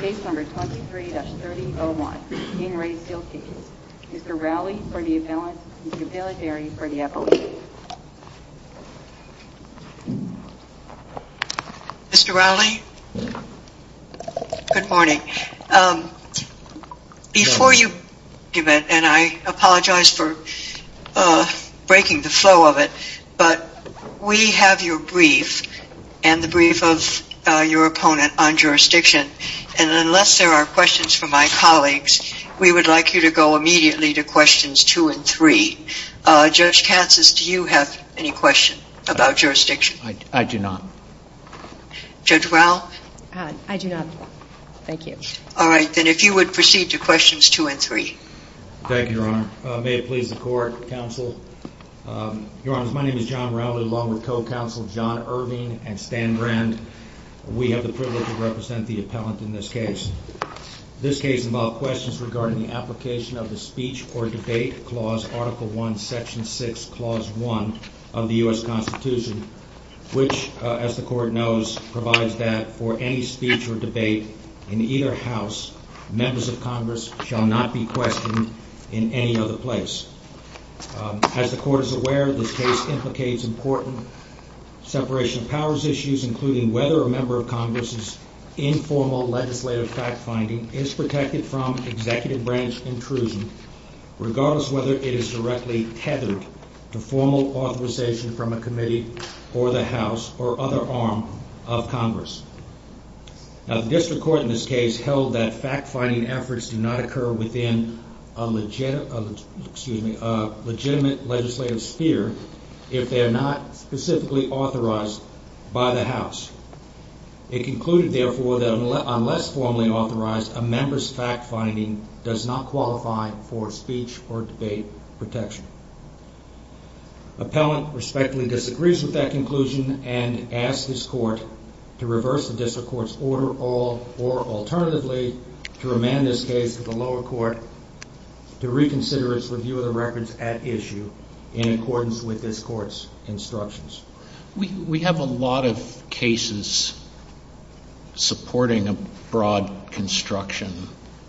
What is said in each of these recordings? Case number 23-3001, Dean Ray's Sealed Case. Mr. Rowley for the announcement, Ms. Valadieri for the appellation. Mr. Rowley, good morning. Before you give it, and I apologize for breaking the flow of it, but we have your brief and the brief of your opponent on jurisdiction. And unless there are questions from my colleagues, we would like you to go immediately to questions two and three. Judge Katsas, do you have any questions about jurisdiction? I do not. Judge Rowell? I do not. Thank you. All right, then if you would proceed to questions two and three. Thank you, Your Honor. May it please the court, counsel. Your Honor, my name is John Rowley, along with co-counsel John Irving and Stan Brand. We have the privilege to represent the appellant in this case. This case involved questions regarding the application of the Speech or Debate Clause, Article 1, Section 6, Clause 1 of the U.S. Constitution, which, as the court knows, provides that for any speech or debate in either house, members of Congress shall not be questioned in any other place. As the court is aware, this case implicates important separation of powers issues, including whether a member of Congress's informal legislative fact-finding is protected from executive branch intrusion, regardless of whether it is directly tethered to formal authorization from a committee or the House or other arm of Congress. Now, the district court in this case held that fact-finding efforts do not occur within a legitimate legislative sphere if they are not specifically authorized by the House. It concluded, therefore, that unless formally authorized, a member's fact-finding does not qualify for speech or debate protection. The appellant respectfully disagrees with that conclusion and asks this court to reverse the district court's order or, alternatively, to remand this case to the lower court to reconsider its review of the records at issue in accordance with this court's instructions. We have a lot of cases supporting a broad construction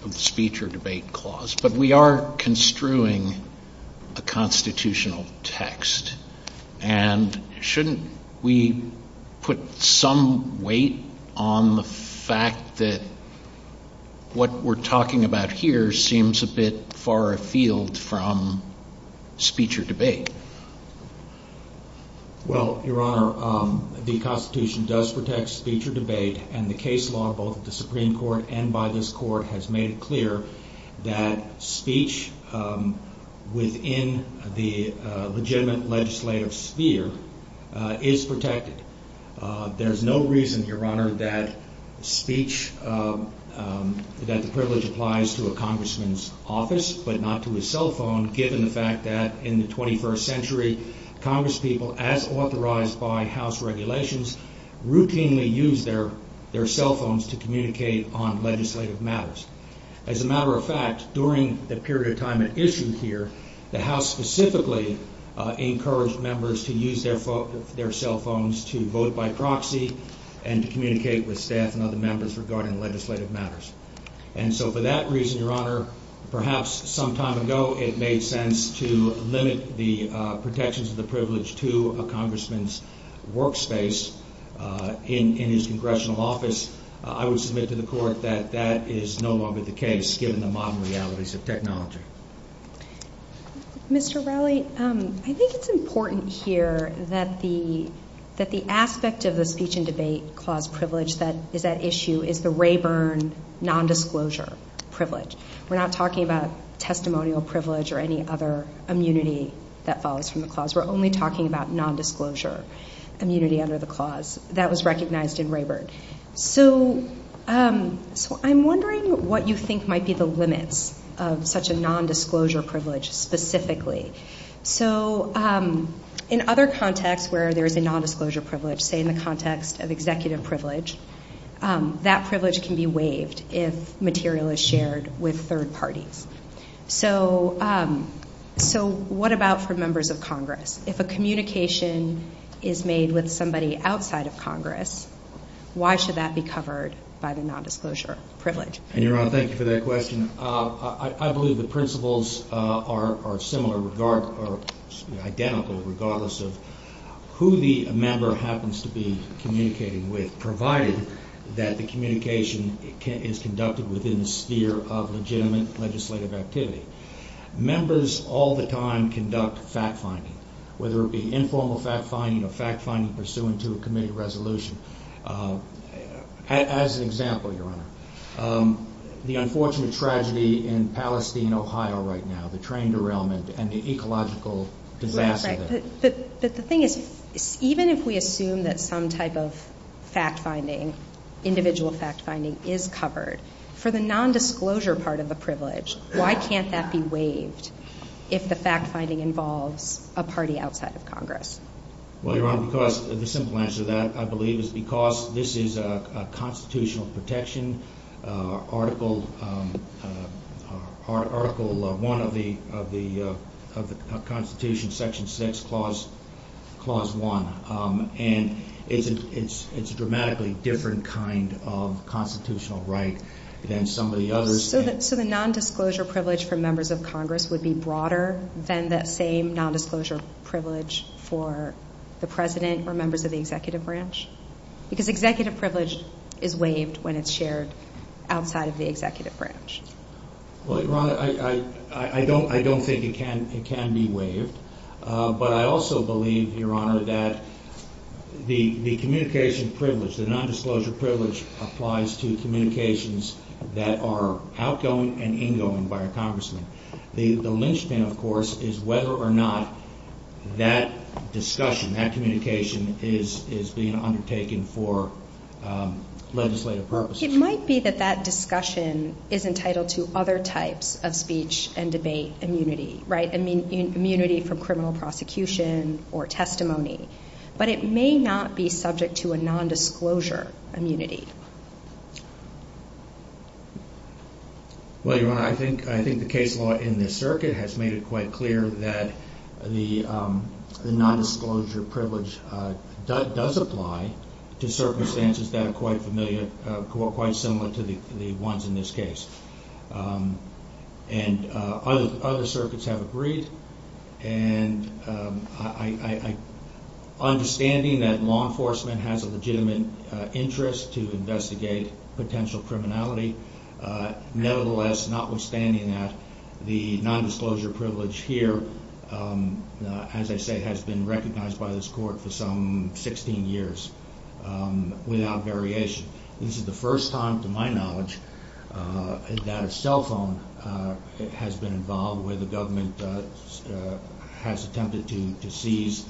of speech or debate clause, but we are construing a constitutional text, and shouldn't we put some weight on the fact that what we're talking about here seems a bit far afield from speech or debate? Well, Your Honor, the Constitution does protect speech or debate, and the case law, both at the Supreme Court and by this court, has made it clear that speech within the legitimate legislative sphere is protected. There's no reason, Your Honor, that the privilege applies to a congressman's office but not to his cell phone, given the fact that in the 21st century, congresspeople, as authorized by House regulations, routinely used their cell phones to communicate on legislative matters. As a matter of fact, during the period of time at issue here, the House specifically encouraged members to use their cell phones to vote by proxy and to communicate with staff and other members regarding legislative matters. And so for that reason, Your Honor, perhaps some time ago it made sense to limit the protections of the privilege to a congressman's workspace in his congressional office. I would submit to the court that that is no longer the case, given the modern realities of technology. Mr. Raleigh, I think it's important here that the aspect of the speech and debate clause privilege that is at issue is the Rayburn nondisclosure privilege. We're not talking about testimonial privilege or any other immunity that follows from the clause. We're only talking about nondisclosure immunity under the clause that was recognized in Rayburn. So I'm wondering what you think might be the limits of such a nondisclosure privilege specifically. So in other contexts where there is a nondisclosure privilege, say in the context of executive privilege, that privilege can be waived if material is shared with third parties. So what about for members of Congress? If a communication is made with somebody outside of Congress, why should that be covered by the nondisclosure privilege? Your Honor, thank you for that question. I believe the principles are similar regardless, or identical regardless of who the member happens to be communicating with, provided that the communication is conducted within the sphere of legitimate legislative activity. Members all the time conduct fact-finding, whether it be informal fact-finding or fact-finding pursuant to a committee resolution. As an example, Your Honor, the unfortunate tragedy in Palestine, Ohio right now, the train derailment and the ecological disaster there. But the thing is, even if we assume that some type of fact-finding, individual fact-finding is covered, for the nondisclosure part of the privilege, why can't that be waived if the fact-finding involves a party outside of Congress? Well, Your Honor, the simple answer to that, I believe, is because this is a constitutional protection, Article 1 of the Constitution, Section 6, Clause 1. And it's a dramatically different kind of constitutional right than some of the others. So the nondisclosure privilege for members of Congress would be broader than that same nondisclosure privilege for the President or members of the executive branch? Because executive privilege is waived when it's shared outside of the executive branch. Well, Your Honor, I don't think it can be waived. But I also believe, Your Honor, that the communication privilege, the nondisclosure privilege, applies to communications that are outgoing and ingoing by a congressman. The lynchpin, of course, is whether or not that discussion, that communication, is being undertaken for legislative purposes. It might be that that discussion is entitled to other types of speech and debate immunity, right? I mean, immunity from criminal prosecution or testimony. But it may not be subject to a nondisclosure immunity. Well, Your Honor, I think the case law in this circuit has made it quite clear that the nondisclosure privilege does apply to circumstances that are quite familiar, quite similar to the ones in this case. And other circuits have agreed. And understanding that law enforcement has a legitimate interest to investigate potential criminality, nevertheless, notwithstanding that, the nondisclosure privilege here, as I say, has been recognized by this court for some 16 years without variation. This is the first time, to my knowledge, that a cell phone has been involved where the government has attempted to seize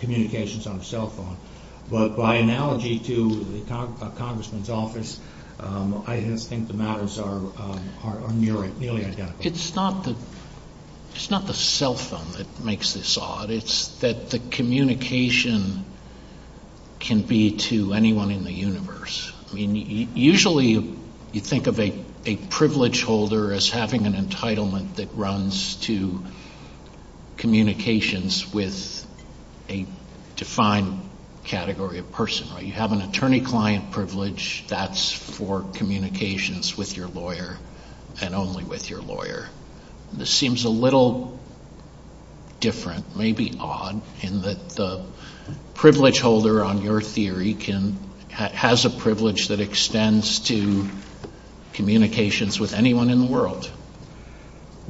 communications on a cell phone. But by analogy to a congressman's office, I think the matters are nearly identical. It's not the cell phone that makes this odd. It's that the communication can be to anyone in the universe. Usually, you think of a privilege holder as having an entitlement that runs to communications with a defined category of person. You have an attorney-client privilege that's for communications with your lawyer and only with your lawyer. This seems a little different, maybe odd, in that the privilege holder, on your theory, has a privilege that extends to communications with anyone in the world.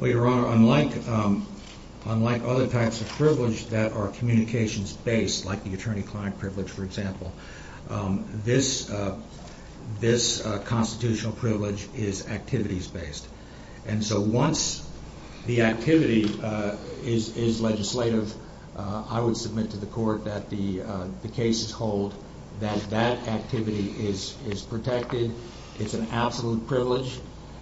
Your Honor, unlike other types of privilege that are communications-based, like the attorney-client privilege, for example, this constitutional privilege is activities-based. And so once the activity is legislative, I would submit to the court that the cases hold that that activity is protected. It's an absolute privilege.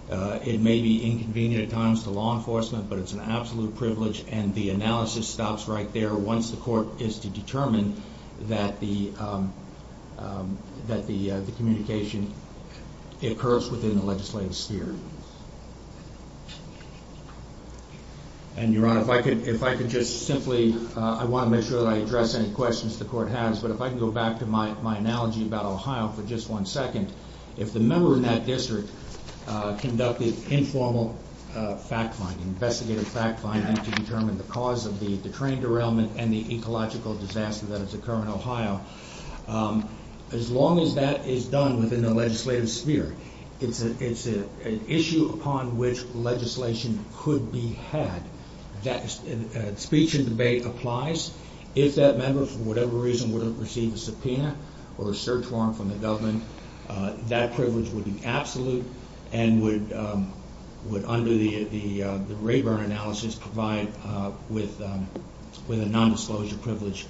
It may be inconvenient at times to law enforcement, but it's an absolute privilege. And the analysis stops right there once the court gets to determine that the communication occurs within the legislative sphere. And, Your Honor, if I could just simply, I want to make sure that I address any questions the court has, but if I can go back to my analogy about Ohio for just one second. If the member in that district conducted informal fact-finding, investigative fact-finding to determine the cause of the crane derailment and the ecological disaster that has occurred in Ohio, as long as that is done within the legislative sphere, it's an issue upon which legislation could be had. If that speech and debate applies, if that member for whatever reason wouldn't receive a subpoena or a search warrant from the government, that privilege would be absolute and would, under the Rayburn analysis, provide with a nondisclosure privilege.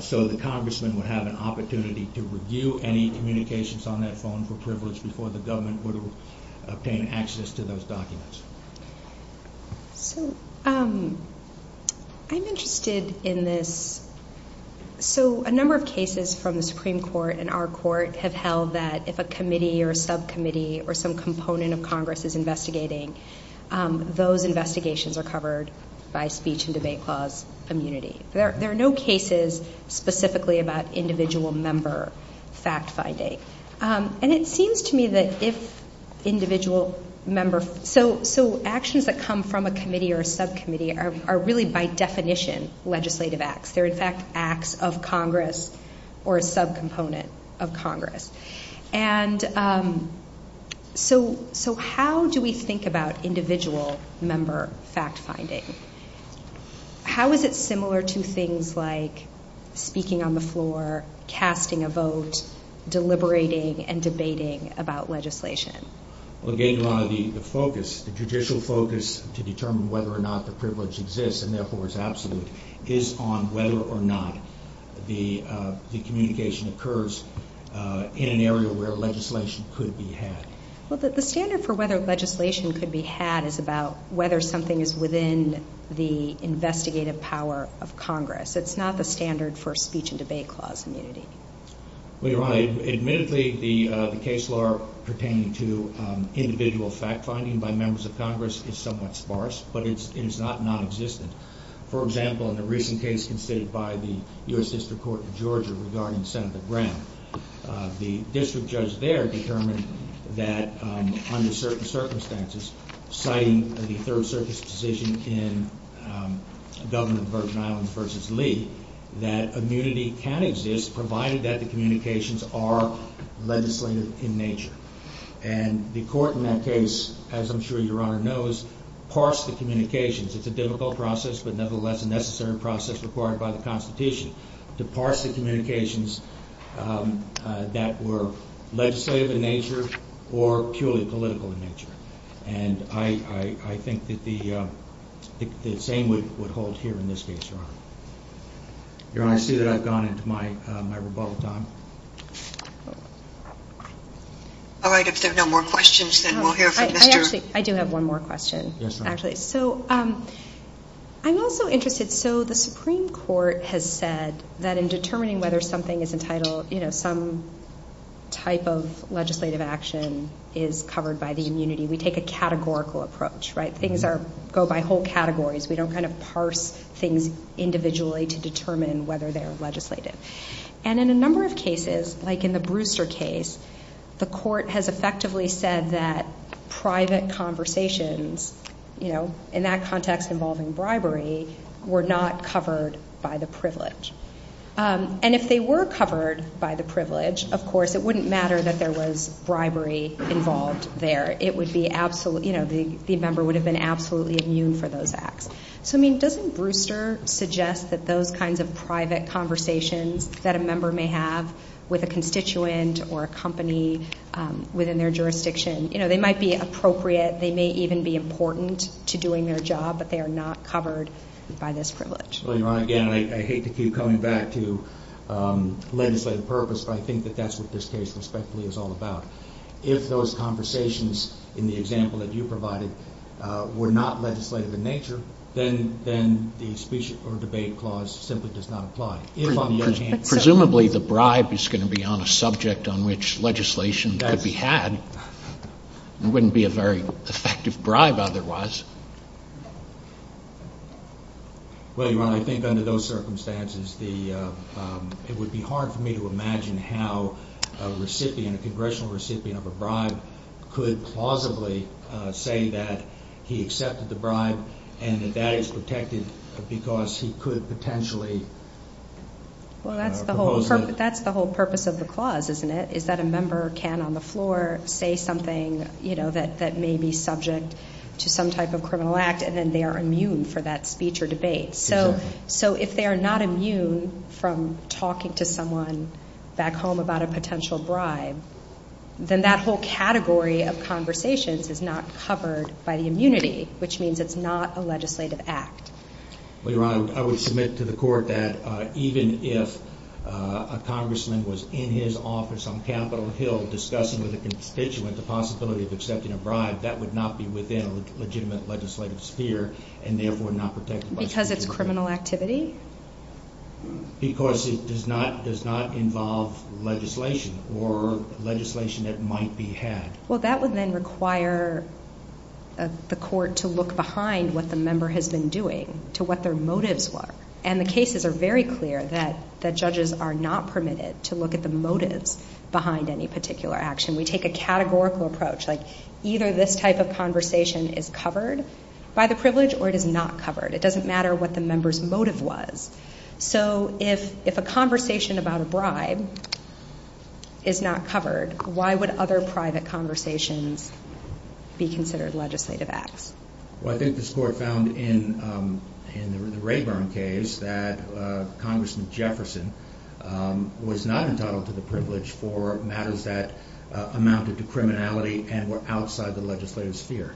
So the congressman would have an opportunity to review any communications on that phone for privilege before the government would obtain access to those documents. I'm interested in this. So a number of cases from the Supreme Court and our court have held that if a committee or subcommittee or some component of Congress is investigating, those investigations are covered by speech and debate clause immunity. There are no cases specifically about individual member fact-finding. And it seems to me that if individual member-so actions that come from a committee or subcommittee are really by definition legislative acts. They're in fact acts of Congress or a subcomponent of Congress. And so how do we think about individual member fact-finding? How is it similar to things like speaking on the floor, casting a vote, deliberating and debating about legislation? Again, the judicial focus to determine whether or not the privilege exists and therefore is absolute is on whether or not the communication occurs in an area where legislation could be had. The standard for whether legislation could be had is about whether something is within the investigative power of Congress. It's not the standard for speech and debate clause immunity. Admittedly, the case law pertaining to individual fact-finding by members of Congress is somewhat sparse, but it's not non-existent. For example, in the recent case conceded by the U.S. District Court of Georgia regarding Senator Brown, the district judge there determined that under certain circumstances, citing the Third Circuit's decision in the government of Virgin Islands v. Lee, that immunity can exist provided that the communications are legislative in nature. And the court in that case, as I'm sure your Honor knows, parsed the communications. It's a difficult process, but nevertheless a necessary process required by the Constitution. It's a difficult process to parse the communications that were legislative in nature or purely political in nature. And I think that the same would hold here in this case, Your Honor. Your Honor, I see that I've gone into my rebuttal time. All right, if there are no more questions, then we'll hear from Mr. I do have one more question, actually. Yes, ma'am. I'm also interested, so the Supreme Court has said that in determining whether something is entitled, some type of legislative action is covered by the immunity. We take a categorical approach, right? Things go by whole categories. We don't kind of parse things individually to determine whether they're legislative. And in a number of cases, like in the Brewster case, the court has effectively said that private conversations, you know, in that context involving bribery, were not covered by the privilege. And if they were covered by the privilege, of course, it wouldn't matter that there was bribery involved there. It would be absolutely, you know, the member would have been absolutely immune for those acts. So, I mean, doesn't Brewster suggest that those kinds of private conversations that a member may have with a constituent or a company within their jurisdiction, you know, they might be appropriate. They may even be important to doing their job, but they are not covered by this privilege. Well, Your Honor, again, I hate to keep coming back to legislative purpose, but I think that that's what this case respectfully is all about. If those conversations in the example that you provided were not legislative in nature, then the special court debate clause simply does not apply. Presumably, the bribe is going to be on a subject on which legislation would be had. It wouldn't be a very effective bribe otherwise. Well, Your Honor, I think under those circumstances, it would be hard for me to imagine how a recipient, a congressional recipient of a bribe could plausibly say that he accepted the bribe and that that is protected because he could potentially... Well, that's the whole purpose of the clause, isn't it? Is that a member can on the floor say something, you know, that may be subject to some type of criminal act and then they are immune for that speech or debate. So, if they are not immune from talking to someone back home about a potential bribe, then that whole category of conversations is not covered by the immunity, which means it's not a legislative act. Well, Your Honor, I would submit to the court that even if a congressman was in his office on Capitol Hill discussing with a constituent the possibility of accepting a bribe, that would not be within a legitimate legislative sphere and therefore not protected... Because of criminal activity? Because it does not involve legislation or legislation that might be had. Well, that would then require the court to look behind what the member has been doing, to what their motives were. And the cases are very clear that the judges are not permitted to look at the motives behind any particular action. We take a categorical approach, like either this type of conversation is covered by the privilege or it is not covered. It doesn't matter what the member's motive was. So, if a conversation about a bribe is not covered, why would other private conversations be considered legislative acts? Well, I think this court found in the Rayburn case that Congressman Jefferson was not entitled to the privilege for matters that amounted to criminality and were outside the legislative sphere.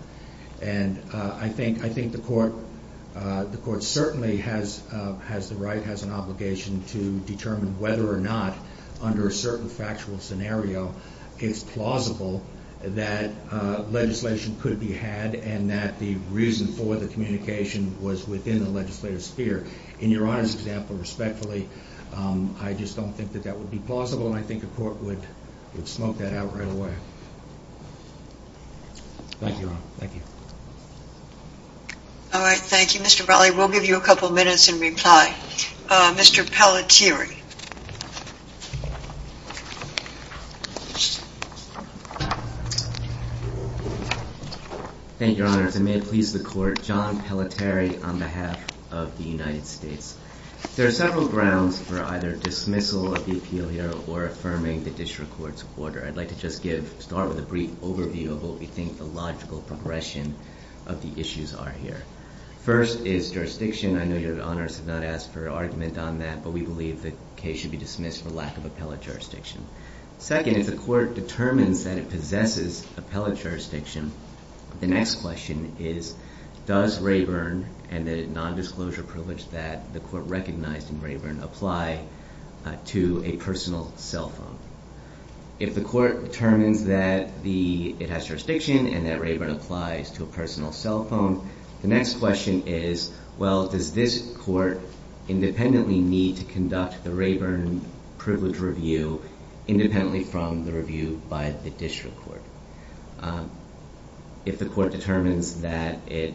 And I think the court certainly has the right, has an obligation, to determine whether or not, under a certain factual scenario, it's plausible that legislation could be had and that the reason for the communication was within the legislative sphere. In Your Honor's example, respectfully, I just don't think that that would be plausible and I think the court would smoke that out right away. Thank you, Your Honor. Thank you. All right. Thank you, Mr. Braly. We'll give you a couple minutes in reply. Mr. Pelletieri. Thank you, Your Honor. If I may please the court, John Pelletieri on behalf of the United States. There are several grounds for either dismissal of the appeal here or affirming the district court's order. I'd like to just start with a brief overview of what we think the logical progression of the issues are here. First is jurisdiction. I know Your Honor has not asked for an argument on that, but we believe the case should be dismissed for lack of appellate jurisdiction. Second, if the court determines that it possesses appellate jurisdiction, the next question is, does Rayburn and the nondisclosure privilege that the court recognized in Rayburn apply to a personal cell phone? If the court determines that it has jurisdiction and that Rayburn applies to a personal cell phone, the next question is, well, does this court independently need to conduct the Rayburn privilege review independently from the review by the district court? If the court determines that it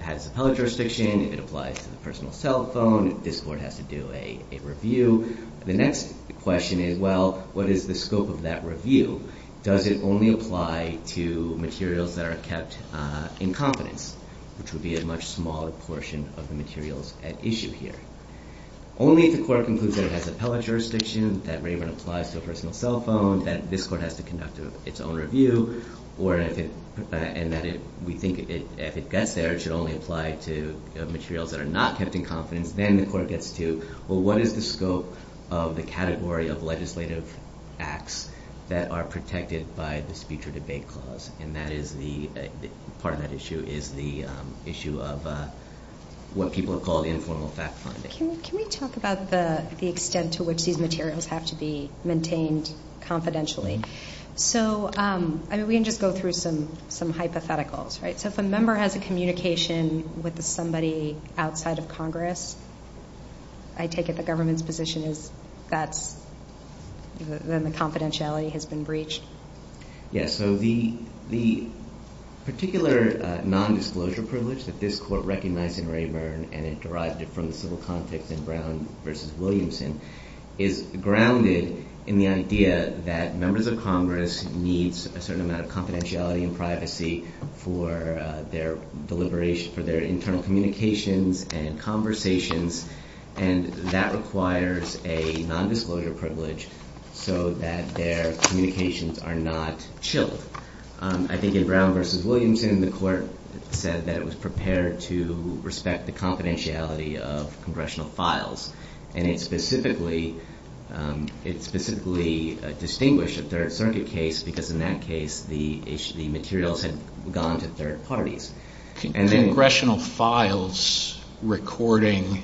has appellate jurisdiction, it applies to a personal cell phone, this court has to do a review. The next question is, well, what is the scope of that review? Does it only apply to materials that are kept in confidence, which would be a much smaller portion of the materials at issue here? Only if the court concludes that it has appellate jurisdiction, that Rayburn applies to a personal cell phone, that this court has to conduct its own review, and that we think if it gets there, it should only apply to materials that are not kept in confidence, then the court gets to, well, what is the scope of the category of legislative acts that are protected by this future debate clause? And part of that issue is the issue of what people have called informal fact-finding. Can we talk about the extent to which these materials have to be maintained confidentially? So, I mean, we can just go through some hypotheticals, right? So if a member has a communication with somebody outside of Congress, I take it the government's position is that then the confidentiality has been breached. Yes, so the particular nondisclosure privilege that this court recognized in Rayburn and it derived it from the civil conflict in Brown v. Williamson is grounded in the idea that members of Congress need a certain amount of confidentiality and privacy for their internal communications and conversations, and that requires a nondisclosure privilege so that their communications are not chilled. I think in Brown v. Williamson, the court said that it was prepared to respect the confidentiality of congressional files, and it specifically distinguished a third-circuit case because in that case the materials had gone to third parties. Congressional files recording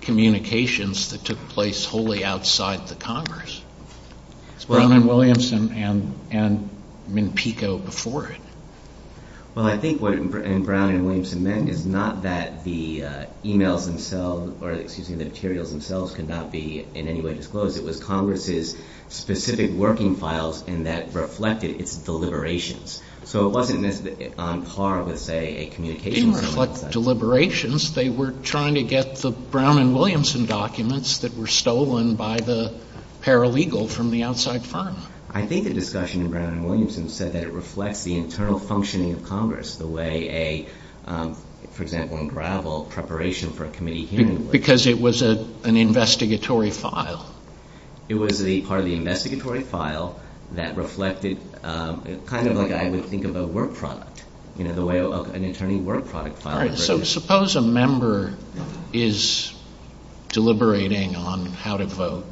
communications that took place wholly outside the Congress. Brown v. Williamson and MnPICO before it. Well, I think what Brown v. Williamson meant is not that the emails themselves, or excuse me, the materials themselves could not be in any way disclosed. It was Congress's specific working files, and that reflected its deliberations. So it wasn't necessarily on par with, say, a communications file. It didn't reflect deliberations. They were trying to get the Brown v. Williamson documents that were stolen by the paralegal from the outside file. I think the discussion in Brown v. Williamson said that it reflects the internal functioning of Congress, the way a, for example, unraveled preparation for a committee hearing. Because it was an investigatory file. It was part of the investigatory file that reflected, it's kind of like I would think of a work product, the way an attorney's work product file. So suppose a member is deliberating on how to vote,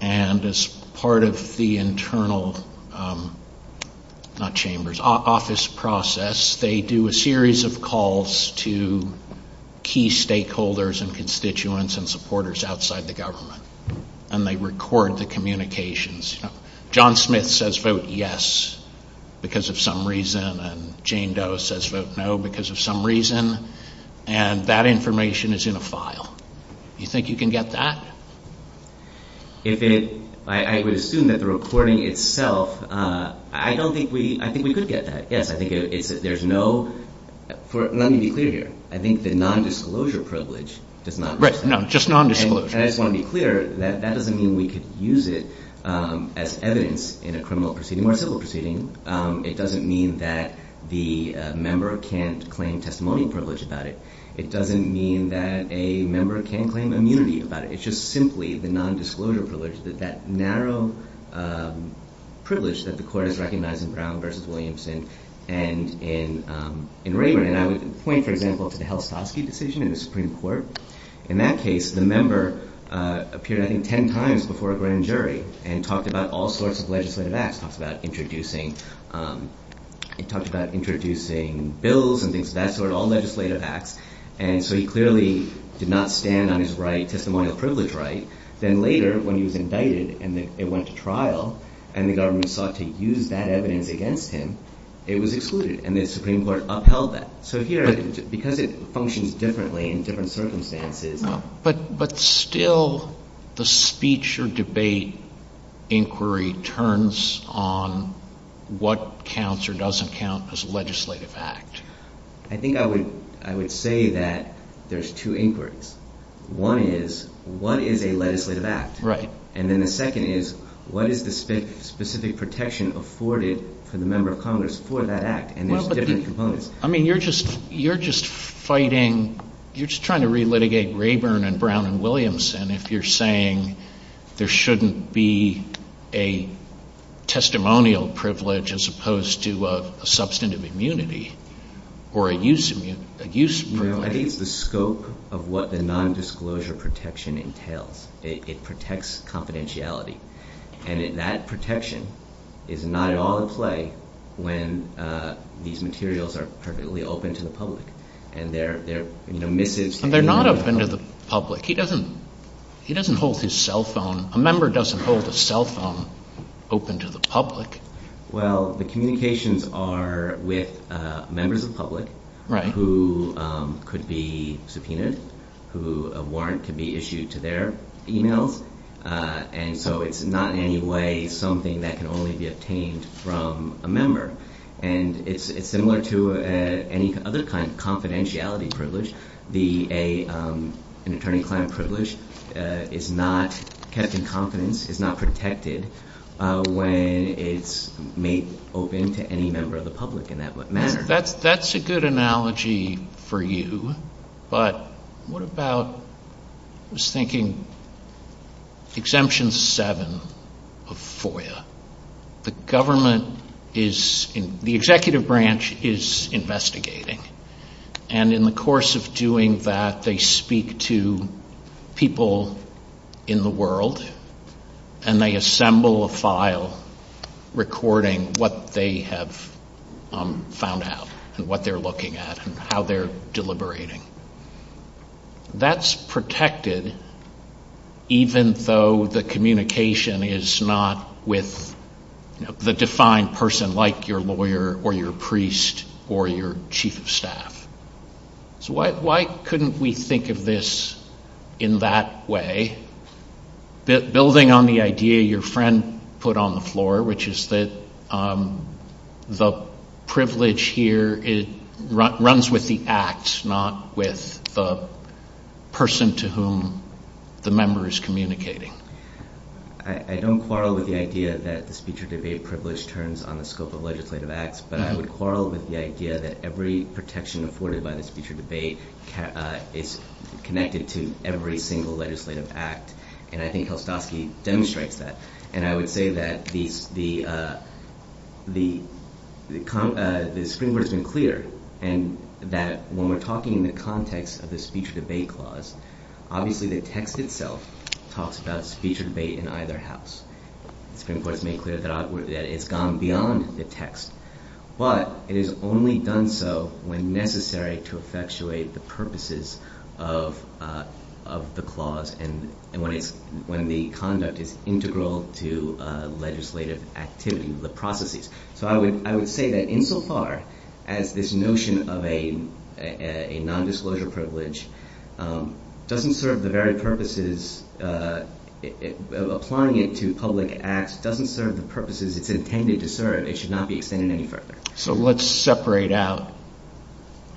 and as part of the internal, not chambers, office process, they do a series of calls to key stakeholders and constituents and supporters outside the government, and they record the communications. John Smith says vote yes because of some reason, and Jane Doe says vote no because of some reason, and that information is in a file. Do you think you can get that? If it, I would assume that the recording itself, I don't think we, I think we could get that. Yes, I think there's no, let me be clear here. I think the nondisclosure privilege does not, and I just want to be clear, that doesn't mean we could use it as evidence in a criminal proceeding or a civil proceeding. It doesn't mean that the member can't claim testimony privilege about it. It doesn't mean that a member can't claim immunity about it. It's just simply the nondisclosure privilege, that narrow privilege that the court has recognized in Brown v. Williamson and in Rayburn, and I would point, for example, to the Helsopovsky decision in the Supreme Court. In that case, the member appeared, I think, ten times before a grand jury and talked about all sorts of legislative acts, talked about introducing, he talked about introducing bills and things of that sort, all legislative acts, and so he clearly did not stand on his right, testimonial privilege right. Then later, when he was indicted and it went to trial, and the government sought to use that evidence against him, it was excluded, and the Supreme Court upheld that. So here, because it functions differently in different circumstances... But still, the speech or debate inquiry turns on what counts or doesn't count as a legislative act. I think I would say that there's two inquiries. One is, what is a legislative act? And then the second is, what is the specific protection afforded to the member of Congress for that act? And there's different components. I mean, you're just fighting, you're just trying to re-litigate Rayburn and Brown v. Williamson if you're saying there shouldn't be a testimonial privilege as opposed to a substantive immunity. I think it's the scope of what the nondisclosure protection entails. It protects confidentiality. And that protection is not at all at play when these materials are perfectly open to the public. And they're not open to the public. He doesn't hold his cell phone... A member doesn't hold a cell phone open to the public. Well, the communications are with members of the public who could be subpoenaed, who warrant to be issued to their email. And so it's not in any way something that can only be obtained from a member. And it's similar to any other kind of confidentiality privilege. An attorney-client privilege is not kept in confidence, is not protected when it's made open to any member of the public in that manner. That's a good analogy for you. But what about, I was thinking, Exemption 7 of FOIA. The government is, the executive branch is investigating. And in the course of doing that, they speak to people in the world and they assemble a file recording what they have found out and what they're looking at and how they're deliberating. That's protected even though the communication is not with the defined person like your lawyer or your priest or your chief of staff. So why couldn't we think of this in that way? Building on the idea your friend put on the floor, which is that the privilege here runs with the acts, not with the person to whom the member is communicating. I don't quarrel with the idea that the speech or debate privilege turns on the scope of legislative acts, but I would quarrel with the idea that every protection afforded by the speech or debate is connected to every single legislative act. And I think Helstovsky demonstrates that. And I would say that the scrimmage is unclear and that when we're talking in the context of the speech or debate clause, obviously the text itself talks about speech or debate in either house. It's been made clear that it's gone beyond the text, but it is only done so when necessary to effectuate the purposes of the clause and when the conduct is integral to legislative activity, the processes. So I would say that insofar as this notion of a nondisclosure privilege doesn't serve the very purposes of applying it to public acts, doesn't serve the purposes it's intended to serve, it should not be extended any further. So let's separate out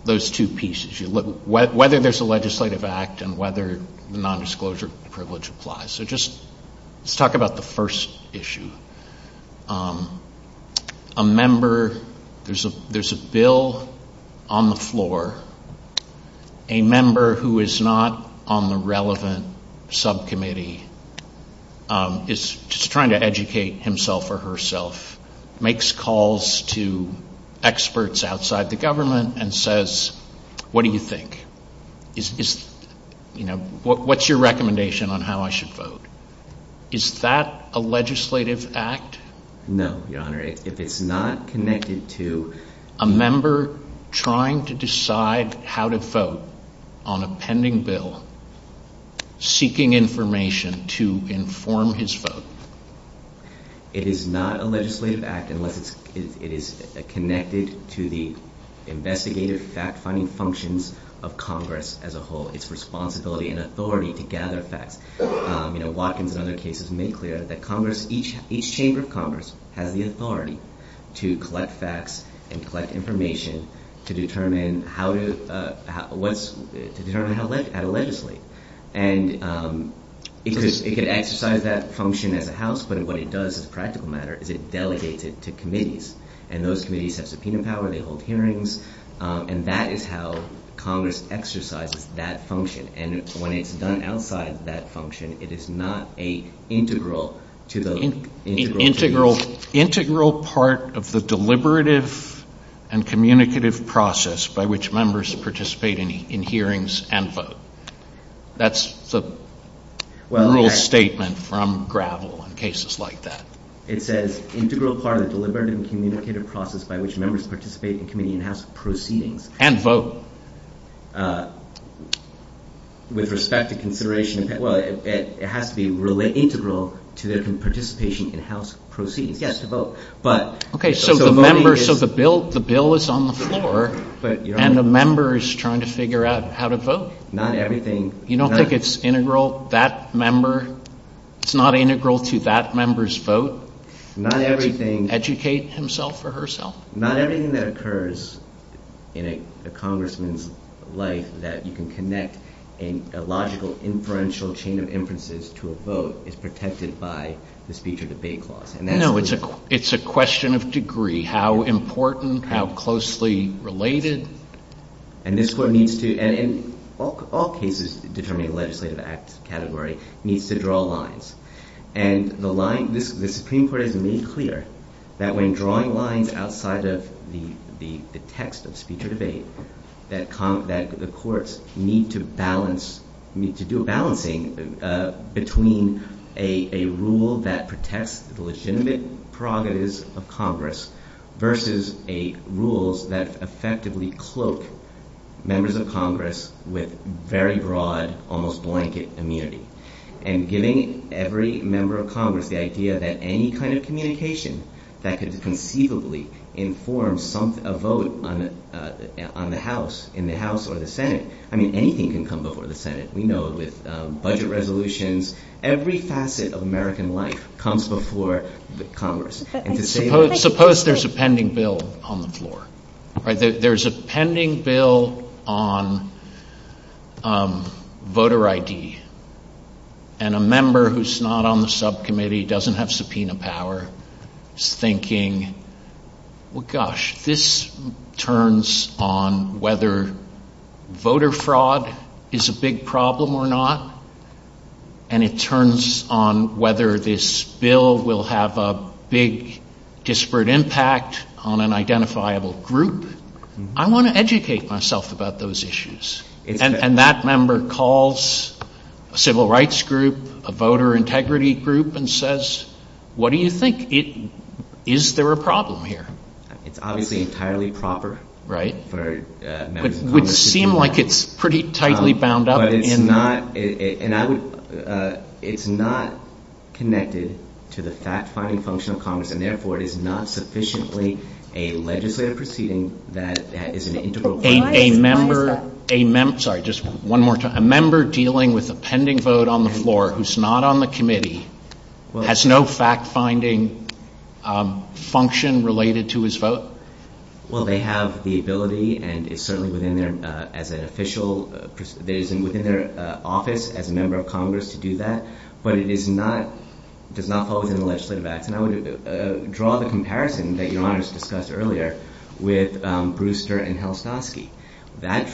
those two pieces, whether there's a legislative act and whether nondisclosure privilege applies. So just talk about the first issue. A member, there's a bill on the floor. A member who is not on the relevant subcommittee is trying to educate himself or herself, makes calls to experts outside the government and says, what do you think? What's your recommendation on how I should vote? Is that a legislative act? No, Your Honor. If it's not connected to a member trying to decide how to vote on a pending bill, seeking information to inform his vote, it is not a legislative act unless it is connected to the investigative fact-finding functions of Congress as a whole, its responsibility and authority to gather facts. Watkins and other cases make clear that Congress, each chamber of Congress, has the authority to collect facts and collect information to determine how to legislate. And it could exercise that function as a House, but what it does as a practical matter is it delegates it to committees, and those committees have subpoena power, they hold hearings, and that is how Congress exercises that function. And when it's done outside that function, it is not an integral to those... Integral part of the deliberative and communicative process by which members participate in hearings and vote. That's the rule of statement from Gravel in cases like that. It says, integral part of the deliberative and communicative process by which members participate in committee and House proceedings... And vote. With respect to consideration, well, it has to be integral to the participation in House proceedings. Yes, to vote. Okay, so the member, so the bill is on the floor, and the member is trying to figure out how to vote. Not everything... You don't think it's integral, that member, it's not integral to that member's vote? Not everything... Educate himself or herself? Not everything that occurs in a congressman's life that you can connect in a logical inferential chain of inferences to a vote is protected by the speech or debate clause. No, it's a question of degree. How important, how closely related? And this one needs to, and in all cases, determining legislative act category, needs to draw lines. And the line, the Supreme Court has made clear that when drawing lines outside of the text of speech or debate, that the courts need to balance, need to do a balancing between a rule that protects the legitimate prerogatives of Congress versus rules that effectively cloak members of Congress with very broad, almost blanket immunity. And giving every member of Congress the idea that any kind of communication that could conceivably inform a vote on the House, in the House or the Senate, I mean anything can come over the Senate. We know with budget resolutions, every facet of American life comes before Congress. Suppose there's a pending bill on the floor. There's a pending bill on voter ID and a member who's not on the subcommittee, doesn't have subpoena power, is thinking, well gosh, this turns on whether voter fraud is a big problem or not and it turns on whether this bill will have a big disparate impact on an identifiable group. I want to educate myself about those issues. And that member calls a civil rights group, a voter integrity group and says, what do you think? Is there a problem here? It's obviously entirely proper. Right. But it would seem like it's pretty tightly bound up. But it's not connected to the fact-finding function of Congress and therefore it is not sufficiently a legislative proceeding A member dealing with a pending vote on the floor who's not on the committee, has no fact-finding function related to his vote? Well, they have the ability and it's certainly within their office as a member of Congress to do that. But it does not fall within the legislative act. I would draw the comparison that Your Honor has discussed earlier with Brewster and Halastosky. That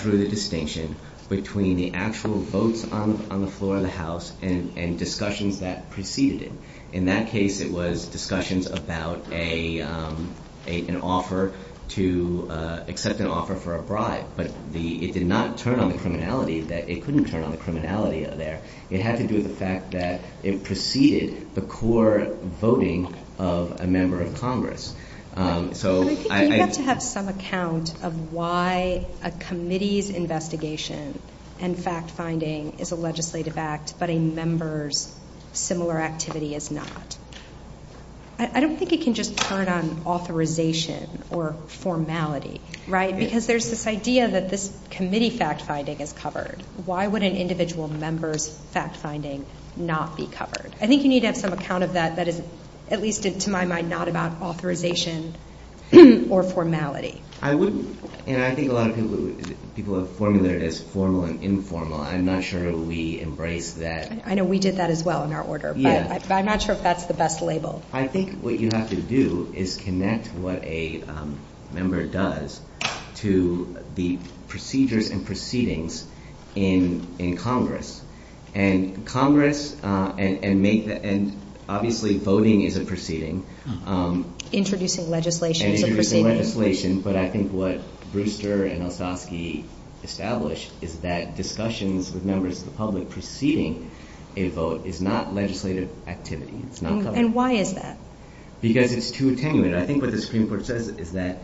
drew the distinction between the actual vote on the floor of the House and discussions that preceded it. In that case, it was discussions about an offer to accept an offer for a bribe. But it did not turn on the criminality. It couldn't turn on the criminality there. It had to do with the fact that it preceded the core voting of a member of Congress. You have to have some account of why a committee's investigation and fact-finding is a legislative act but a member's similar activity is not. I don't think it can just start on authorization or formality. Because there's this idea that this committee fact-finding is covered. Why would an individual member's fact-finding not be covered? I think you need to have some account of that. At least it's, to my mind, not about authorization or formality. And I think a lot of people have formulated it as formal and informal. I'm not sure we embrace that. I know we did that as well in our order. But I'm not sure if that's the best label. I think what you have to do is connect what a member does to the procedures and proceedings in Congress. And obviously voting is a proceeding. Introducing legislation. Introducing legislation. But I think what Brewster and Olszewski established is that discussions with members of the public preceding a vote is not legislative activity. And why is that? Because it's too attenuate. I think what the Supreme Court says is that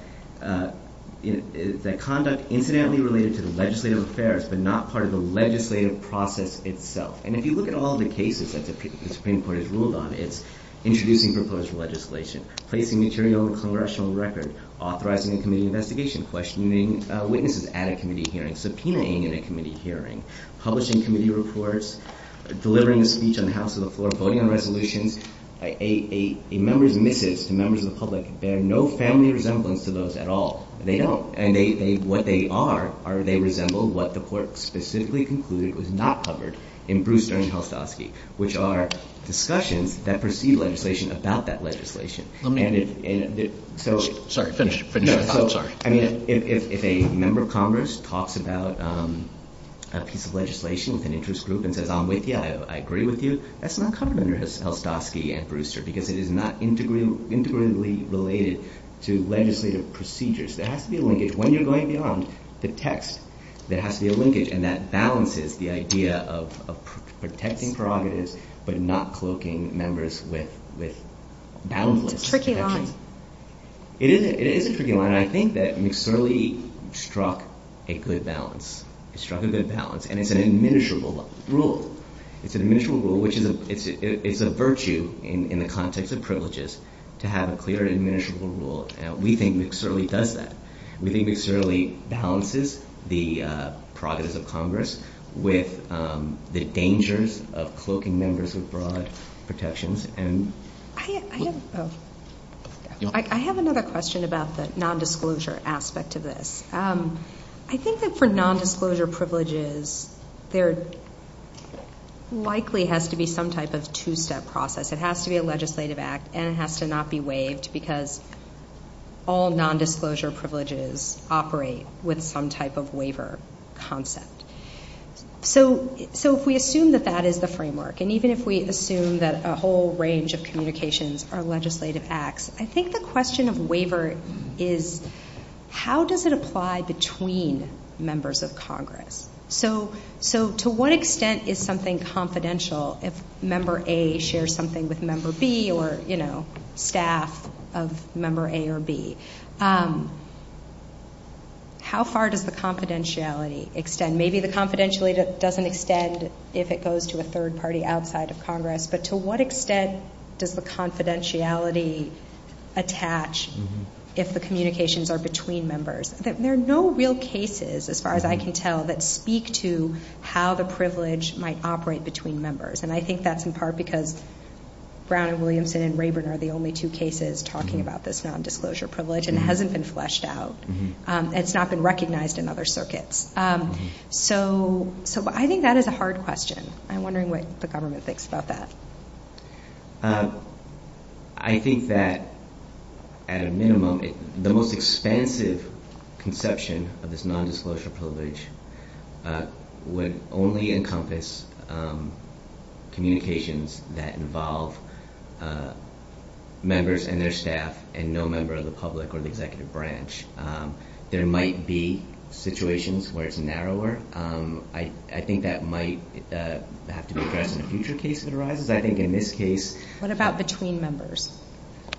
conduct incidentally related to legislative affairs but not part of the legislative process itself. And if you look at all the cases that the Supreme Court has ruled on, it's introducing proposed legislation, placing material on a congressional record, authorizing a committee investigation, questioning witnesses at a committee hearing, subpoenaing at a committee hearing, publishing committee reports, delivering a speech on the House or the floor, voting on resolutions, a member's missives to members of the public bear no family resemblance to those at all. They don't. And what they are, they resemble what the court specifically concluded was not covered in Brewster and Olszewski, which are discussions that precede legislation about that legislation. If a member of Congress talks about a piece of legislation with an interest group and says, yeah, I agree with you, that's not covered under Olszewski and Brewster because it is not integrally related to legislative procedures. There has to be a linkage. When you're going beyond the text, there has to be a linkage. And that balances the idea of protecting prerogatives but not cloaking members with boundless protection. It's tricky. It is tricky. And I think that McSorley struck a good balance. He struck a good balance. And it's an adminishable rule. It's an adminishable rule, which is a virtue in the context of privileges to have a clear and adminishable rule. We think McSorley does that. We think McSorley balances the prerogatives of Congress with the dangers of cloaking members with broad protections. I have another question about the nondisclosure aspect of this. I think that for nondisclosure privileges, there likely has to be some type of two-step process. It has to be a legislative act, and it has to not be waived because all nondisclosure privileges operate with some type of waiver concept. So if we assume that that is the framework, and even if we assume that a whole range of communications are legislative acts, I think the question of waiver is how does it apply between members of Congress? So to what extent is something confidential if member A shares something with member B or staff of member A or B? How far does the confidentiality extend? Maybe the confidentiality doesn't extend if it goes to a third party outside of Congress, but to what extent does the confidentiality attach if the communications are between members? There are no real cases, as far as I can tell, that speak to how the privilege might operate between members, and I think that's in part because Brown and Williamson and Rayburn are the only two cases talking about this nondisclosure privilege, and it hasn't been fleshed out. It's not been recognized in other circuits. So I think that is a hard question. I'm wondering what the government thinks about that. I think that, at a minimum, the most expansive conception of this nondisclosure privilege would only encompass communications that involve members and their staff and no member of the public or the executive branch. There might be situations where it's narrower. I think that might have to be addressed in a future case that arises. What about between members?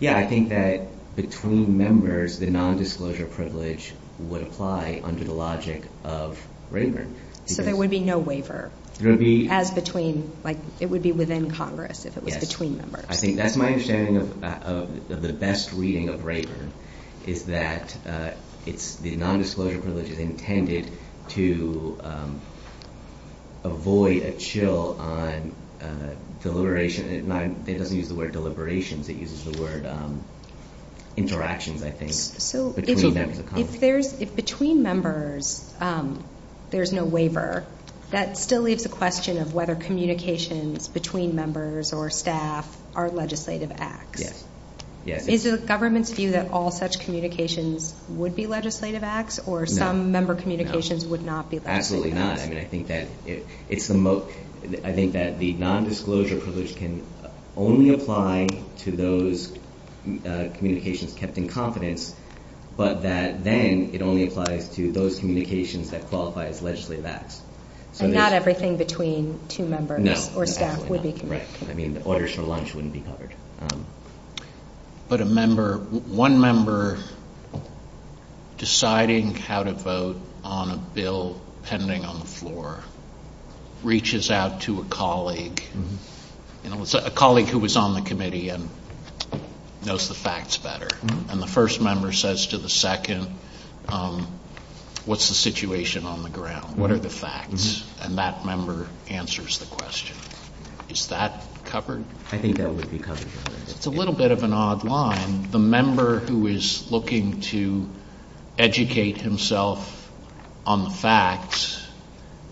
I think that between members, the nondisclosure privilege would apply under the logic of Rayburn. So there would be no waiver? It would be within Congress if it was between members. That's my understanding of the best reading of Rayburn is that the nondisclosure privilege is intended to avoid a chill on deliberations. It doesn't use the word deliberations. It uses the word interactions, I think, between members of Congress. If between members there's no waiver, that still is a question of whether communications between members or staff are legislative acts. Yes. Is the government's view that all such communications would be legislative acts, or some member communications would not be legislative acts? Absolutely not. I think that the nondisclosure privilege can only apply to those communications kept in confidence, but then it only applies to those communications that qualify as legislative acts. Not everything between two members or staff would be legislative acts. Orders for lunch wouldn't be covered. But one member deciding how to vote on a bill pending on the floor reaches out to a colleague, a colleague who was on the committee and knows the facts better. And the first member says to the second, what's the situation on the ground? What are the facts? And that member answers the question. Is that covered? I think that would be covered. It's a little bit of an odd line. The member who is looking to educate himself on the facts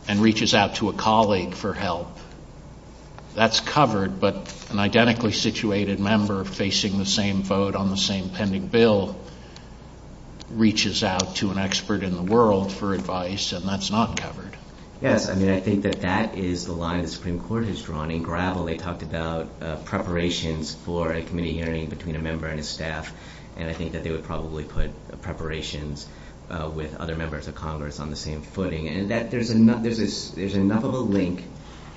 and reaches out to a colleague for help, that's covered. But an identically situated member facing the same vote on the same pending bill reaches out to an expert in the world for advice, and that's not covered. Yes, I mean, I think that that is the line the Supreme Court has drawn. In Gravel, they talked about preparations for a committee hearing between a member and a staff, and I think that they would probably put preparations with other members of Congress on the same footing. And there's enough of a link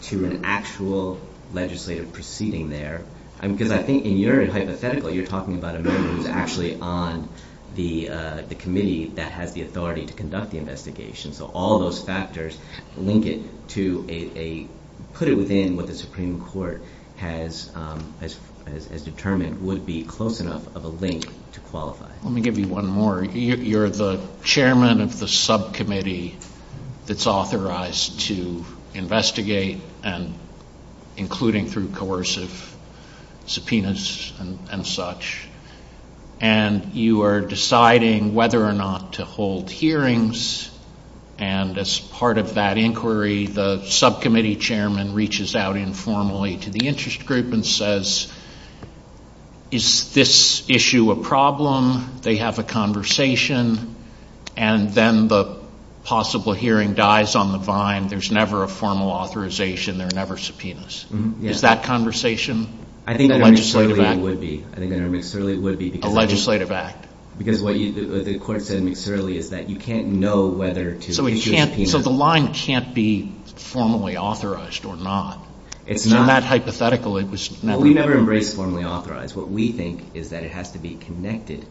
to an actual legislative proceeding there. Because I think in your hypothetical, you're talking about a member who's actually on the committee that has the authority to conduct the investigation. So all those factors link it to a... put it within what the Supreme Court has determined would be close enough of a link to qualify. Let me give you one more. You're the chairman of the subcommittee that's authorized to investigate, including through coercive subpoenas and such. And you are deciding whether or not to hold hearings, and as part of that inquiry, the subcommittee chairman reaches out informally to the interest group and says, is this issue a problem? They have a conversation, and then the possible hearing dies on the vine. There's never a formal authorization. There are never subpoenas. Is that conversation a legislative act? I think it necessarily would be. A legislative act. Because what the court said necessarily is that you can't know whether to issue a subpoena. So the line can't be formally authorized or not. It's not hypothetical. We never embraced formally authorized. What we think is that it has to be connected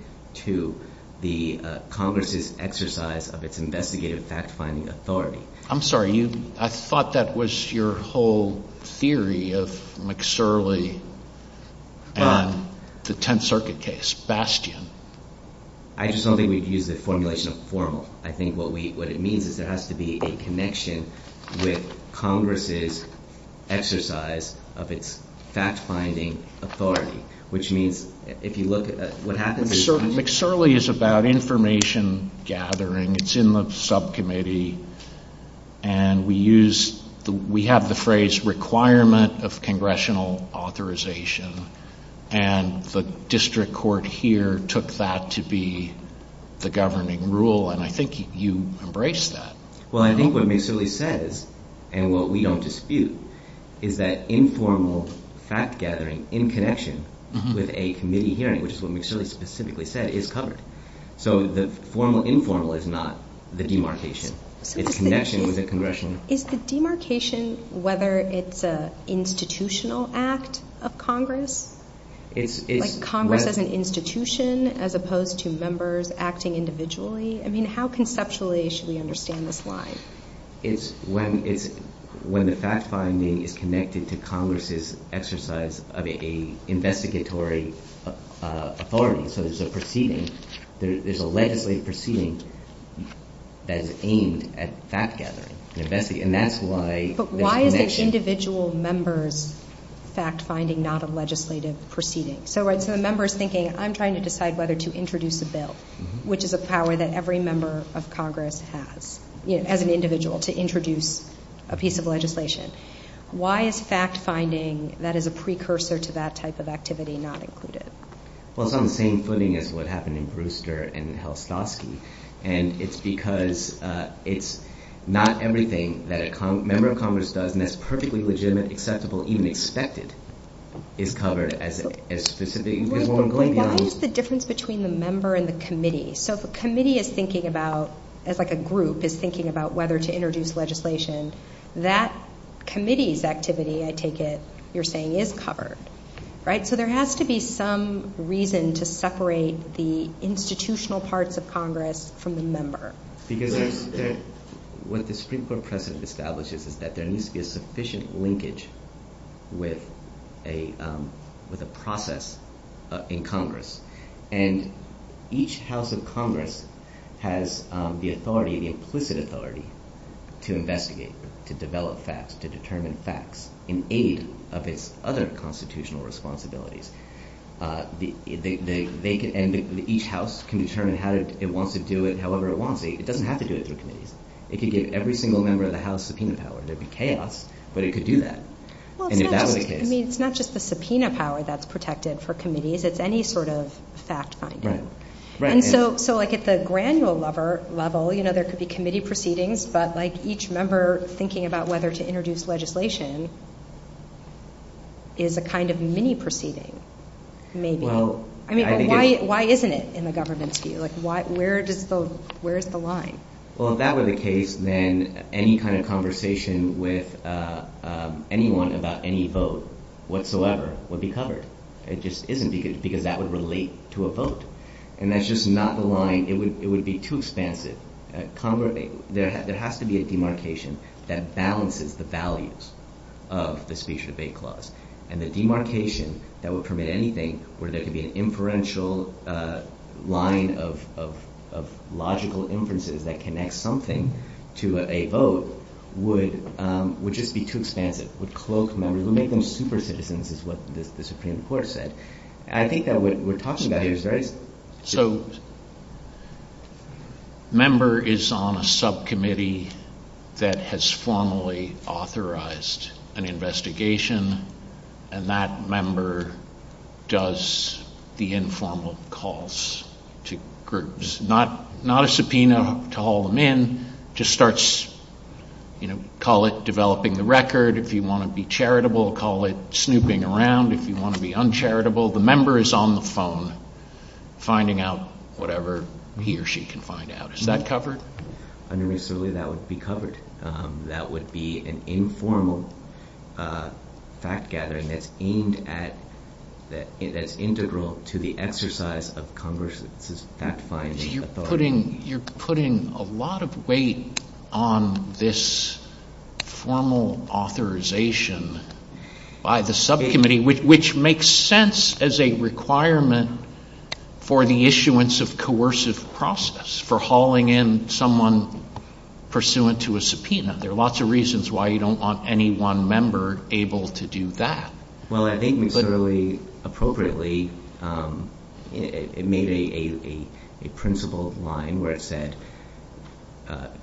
to the Congress's exercise of its investigative fact-finding authority. I'm sorry. I thought that was your whole theory of McSorley and the Tenth Circuit case, Bastion. I just don't think we've used the formulation of formal. I think what it means is there has to be a connection with Congress's exercise of its fact-finding authority, which means if you look at what happened... McSorley is about information gathering. It's in the subcommittee, and we have the phrase requirement of congressional authorization, and the district court here took that to be the governing rule, and I think you embraced that. Well, I think what McSorley says, and what we don't dispute, is that informal fact-gathering in connection with a committee hearing, which is what McSorley specifically said, is covered. So the formal-informal is not the demarcation. It's connection with the congressional... Is the demarcation whether it's an institutional act of Congress? Like Congress as an institution as opposed to members acting individually? I mean, how conceptually should we understand this line? It's when the fact-finding is connected to Congress's exercise of an investigatory authority. So there's a proceeding, there's a legislative proceeding that is aimed at fact-gathering. And that's why... But why is an individual member's fact-finding not a legislative proceeding? So a member is thinking, I'm trying to decide whether to introduce the bill, which is a power that every member of Congress has, as an individual, to introduce a piece of legislation. Why is fact-finding, that is a precursor to that type of activity, not included? Well, it's on the same footing as what happened in Brewster and Helstovsky. And it's because it's not everything that a member of Congress does, and that's perfectly legitimate, acceptable, even expected, is covered as a specific... Wait, wait, wait. What is the difference between the member and the committee? So if a committee is thinking about, as like a group, is thinking about whether to introduce legislation, that committee's activity, I take it, you're saying is covered, right? So there has to be some reason to separate the institutional parts of Congress from the member. Because what the Supreme Court precedent establishes is that there needs to be a sufficient linkage with a process in Congress. And each house of Congress has the authority, the implicit authority, to investigate, to develop facts, to determine facts, in aid of its other constitutional responsibilities. Each house can determine how it wants to do it, however it wants. It doesn't have to do it through a committee. It can get every single member of the House to subpoena power. But it could do that. And if that were the case... I mean, it's not just the subpoena power that's protected for committees, it's any sort of fact-finding. Right, right. And so, like, at the granular level, you know, there could be committee proceedings, but, like, each member thinking about whether to introduce legislation is a kind of mini-proceeding, maybe. Well, I think... I mean, why isn't it in the government's view? Like, where does the... where's the line? Well, if that were the case, then any kind of conversation with anyone about any vote whatsoever would be covered. It just isn't, because that would relate to a vote. And that's just not the line. It would be too expansive. There has to be a demarcation that balances the values of the Speech-to-Debate Clause. And the demarcation that would permit anything, where there could be an inferential line of logical inferences that connect something to a vote, would just be too expansive. It would close members. It would make them super-citizens, is what the Supreme Court said. And I think that what we're talking about is very... So, a member is on a subcommittee that has formally authorized an investigation, and that member does the informal calls to groups. It's not a subpoena to haul them in. It just starts... Call it developing the record. If you want to be charitable, call it snooping around. If you want to be uncharitable, the member is on the phone finding out whatever he or she can find out. Is that covered? I mean, certainly that would be covered. That would be an informal fact-gathering that's aimed at... that's integral to the exercise of Congress's fact-finding authority. You're putting... You're putting a lot of weight on this formal authorization by the subcommittee, which makes sense as a requirement for the issuance of coercive process for hauling in someone pursuant to a subpoena. There are lots of reasons why you don't want any one member able to do that. Well, I think it's really appropriately made a principled line where it said,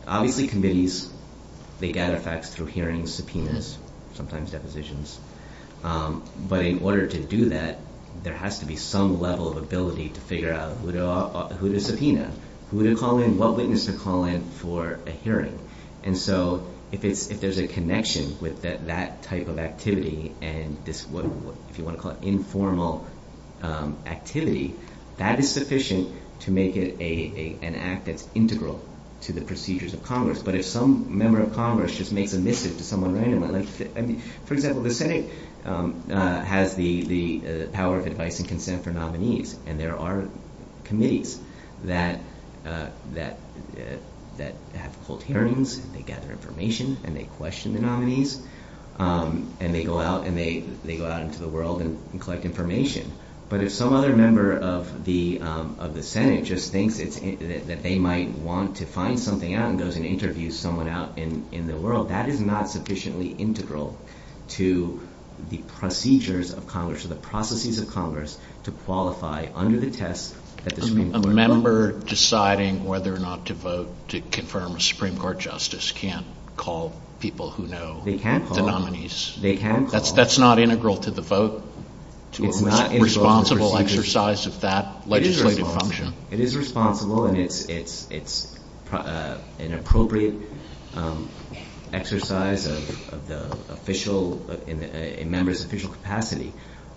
obviously committees, they gather facts through hearings, subpoenas, sometimes depositions. But in order to do that, there has to be some level of ability to figure out who to subpoena, who to call in, what witness to call in for a hearing. And so if there's a connection with that type of activity and this, what you want to call it, activity, that is sufficient to make it an act that's integral to the procedures of Congress. But if some member of Congress just makes a mission to someone randomly... I mean, for example, the Senate has the power of advice and consent for nominees, and there are committees that have hold hearings and they gather information and they question the nominees and they go out into the world and collect information. But if some other member of the Senate just thinks that they might want to find something out and goes and interviews someone out in the world, that is not sufficiently integral to the procedures of Congress, to the processes of Congress to qualify under the test that the Supreme Court... A member deciding whether or not to vote to confirm with the Supreme Court justice can't call people who know the nominees. They can call. That's not integral to the vote. It's not... It's a responsible exercise of that legislative function. It is responsible and it's an appropriate exercise of the official... a member's official capacity.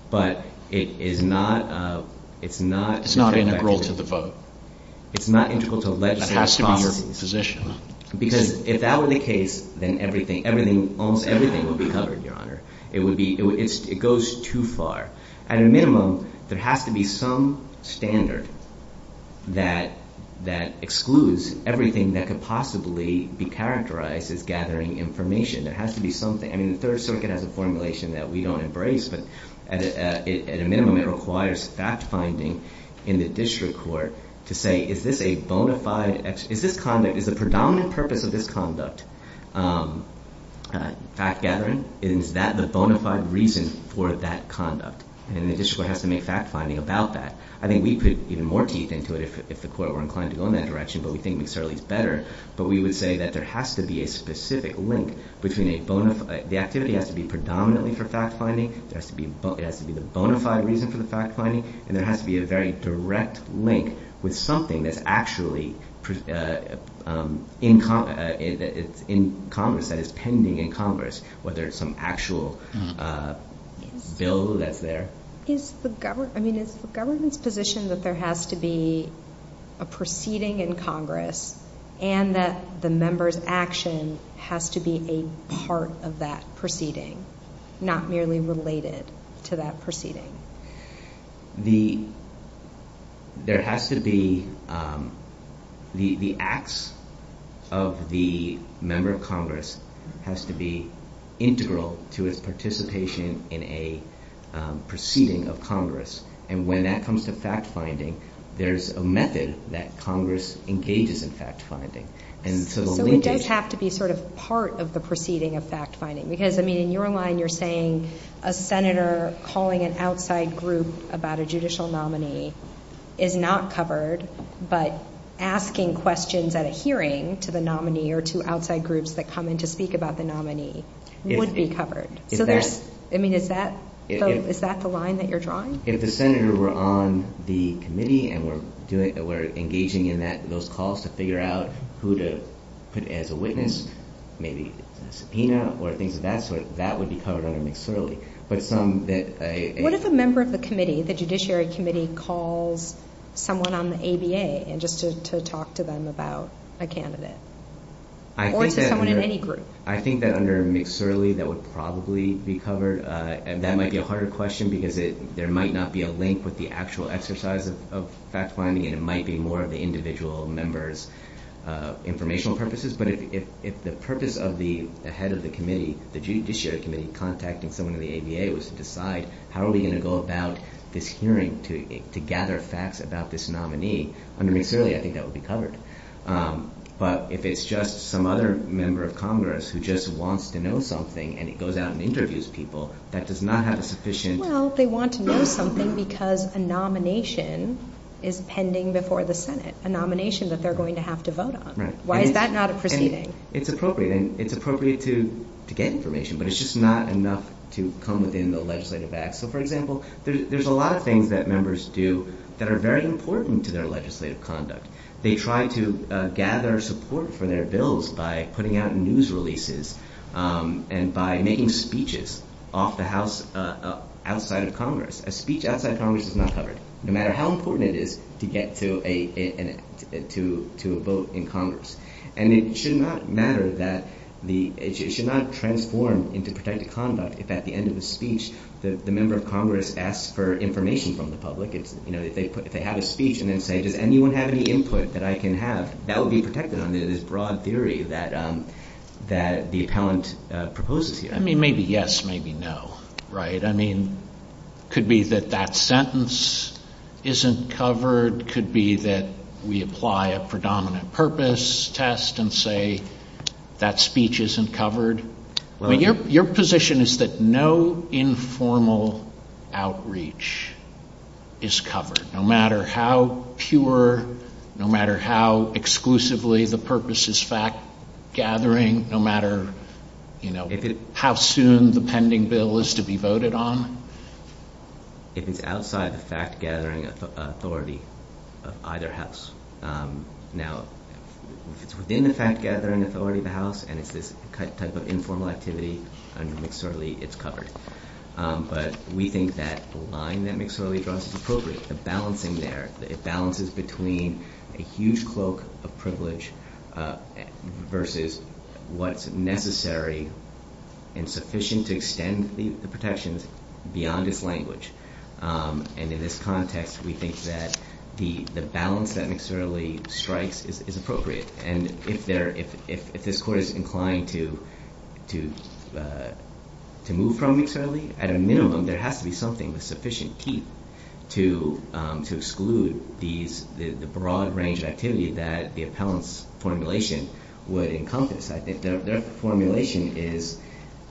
But it is not... It's not... It's not integral to the vote. It's not integral to legislative... It has to be in the position. Because if that were the case, then everything, almost everything would be covered, Your Honor. It would be... It goes too far. At a minimum, there has to be some standard that excludes everything that could possibly be characterized as gathering information. There has to be something. I mean, the Third Circuit has a formulation that we don't embrace, but at a minimum, it requires fact-finding in the district court to say, is this a bona fide... Is this conduct... Is the predominant purpose of this conduct fact-gathering? Is that the bona fide reason for that conduct? And then the district court has to make fact-finding about that. I think we could put even more teeth into it if the court were inclined to go in that direction, but we think it's certainly better. But we would say that there has to be a specific link between a bona fide... The activity has to be predominantly for fact-finding. It has to be the bona fide reason for the fact-finding. And there has to be a very direct link with something that's actually in Congress, that is pending in Congress, whether it's some actual bill that's there. Is the government... I mean, is the government's position that there has to be a proceeding in Congress and that the member's action has to be a part of that proceeding, not merely related to that proceeding? The... There has to be... The acts of the member of Congress has to be integral to his participation in a proceeding of Congress. And when that comes to fact-finding, there's a method that Congress engages in fact-finding. And so the linkage... But we did have to be sort of part of the proceeding of fact-finding, because, I mean, in your line, you're saying a senator calling an outside group about a judicial nominee is not covered, but asking questions at a hearing to the nominee or to outside groups that come in to speak about the nominee would be covered. Is that... I mean, is that... Is that the line that you're drawing? If the senator were on the committee and were engaging in those calls to figure out who to put as a witness, maybe a subpoena or things of that sort, that would be covered under mixed reality. But some... What if a member of the committee, the Judiciary Committee, calls someone on the ABA just to talk to them about a candidate? Or to someone in any group. I think that under mixed reality, that would probably be covered. And that might be a harder question because there might not be a link with the actual exercise of fact-finding and it might be more of the individual member's informational purposes. But if the purpose of the head of the committee, the Judiciary Committee, contacting someone in the ABA was to decide how are we going to go about this hearing to gather facts about this nominee, under mixed reality, I think that would be covered. But if it's just some other member of Congress who just wants to know something and he goes out and interviews people, that does not have sufficient... Well, they want to know something because a nomination is pending before the Senate. A nomination that they're going to have to vote on. Why is that not a proceeding? It's appropriate. And it's appropriate to get information. But it's just not enough to come within the legislative act. So, for example, there's a lot of things that members do that are very important to their legislative conduct. They try to gather support for their bills by putting out news releases and by making speeches off the House, outside of Congress. A speech outside of Congress is not covered. No matter how important it is to get to a vote in Congress. And it should not matter that... It should not transform into protective conduct if at the end of the speech the member of Congress asks for information from the public. If they have a speech and then say, did anyone have any input that I can have? That would be protected under this broad theory that the account proposes here. I mean, maybe yes, maybe no. Right? I mean, could be that that sentence isn't covered. Could be that we apply a predominant purpose test and say that speech isn't covered. Your position is that no informal outreach is covered. No matter how pure, no matter how exclusively the purpose is fact-gathering, no matter how soon the pending bill is to be voted on? If it's outside the fact-gathering authority of either House. Now, if it's within the fact-gathering authority of the House and it's this type of informal activity, then certainly it's covered. But we think that the line that McSorley draws is appropriate. The balancing there. It balances between a huge cloak of privilege versus what's necessary and sufficient to extend the protections beyond this language. And in this context, we think that the balance that McSorley strikes is appropriate. And if this Court is inclined to move from McSorley, at a minimum, there has to be something with sufficient teeth to exclude the broad range of activity that the appellant's formulation would encompass. Their formulation is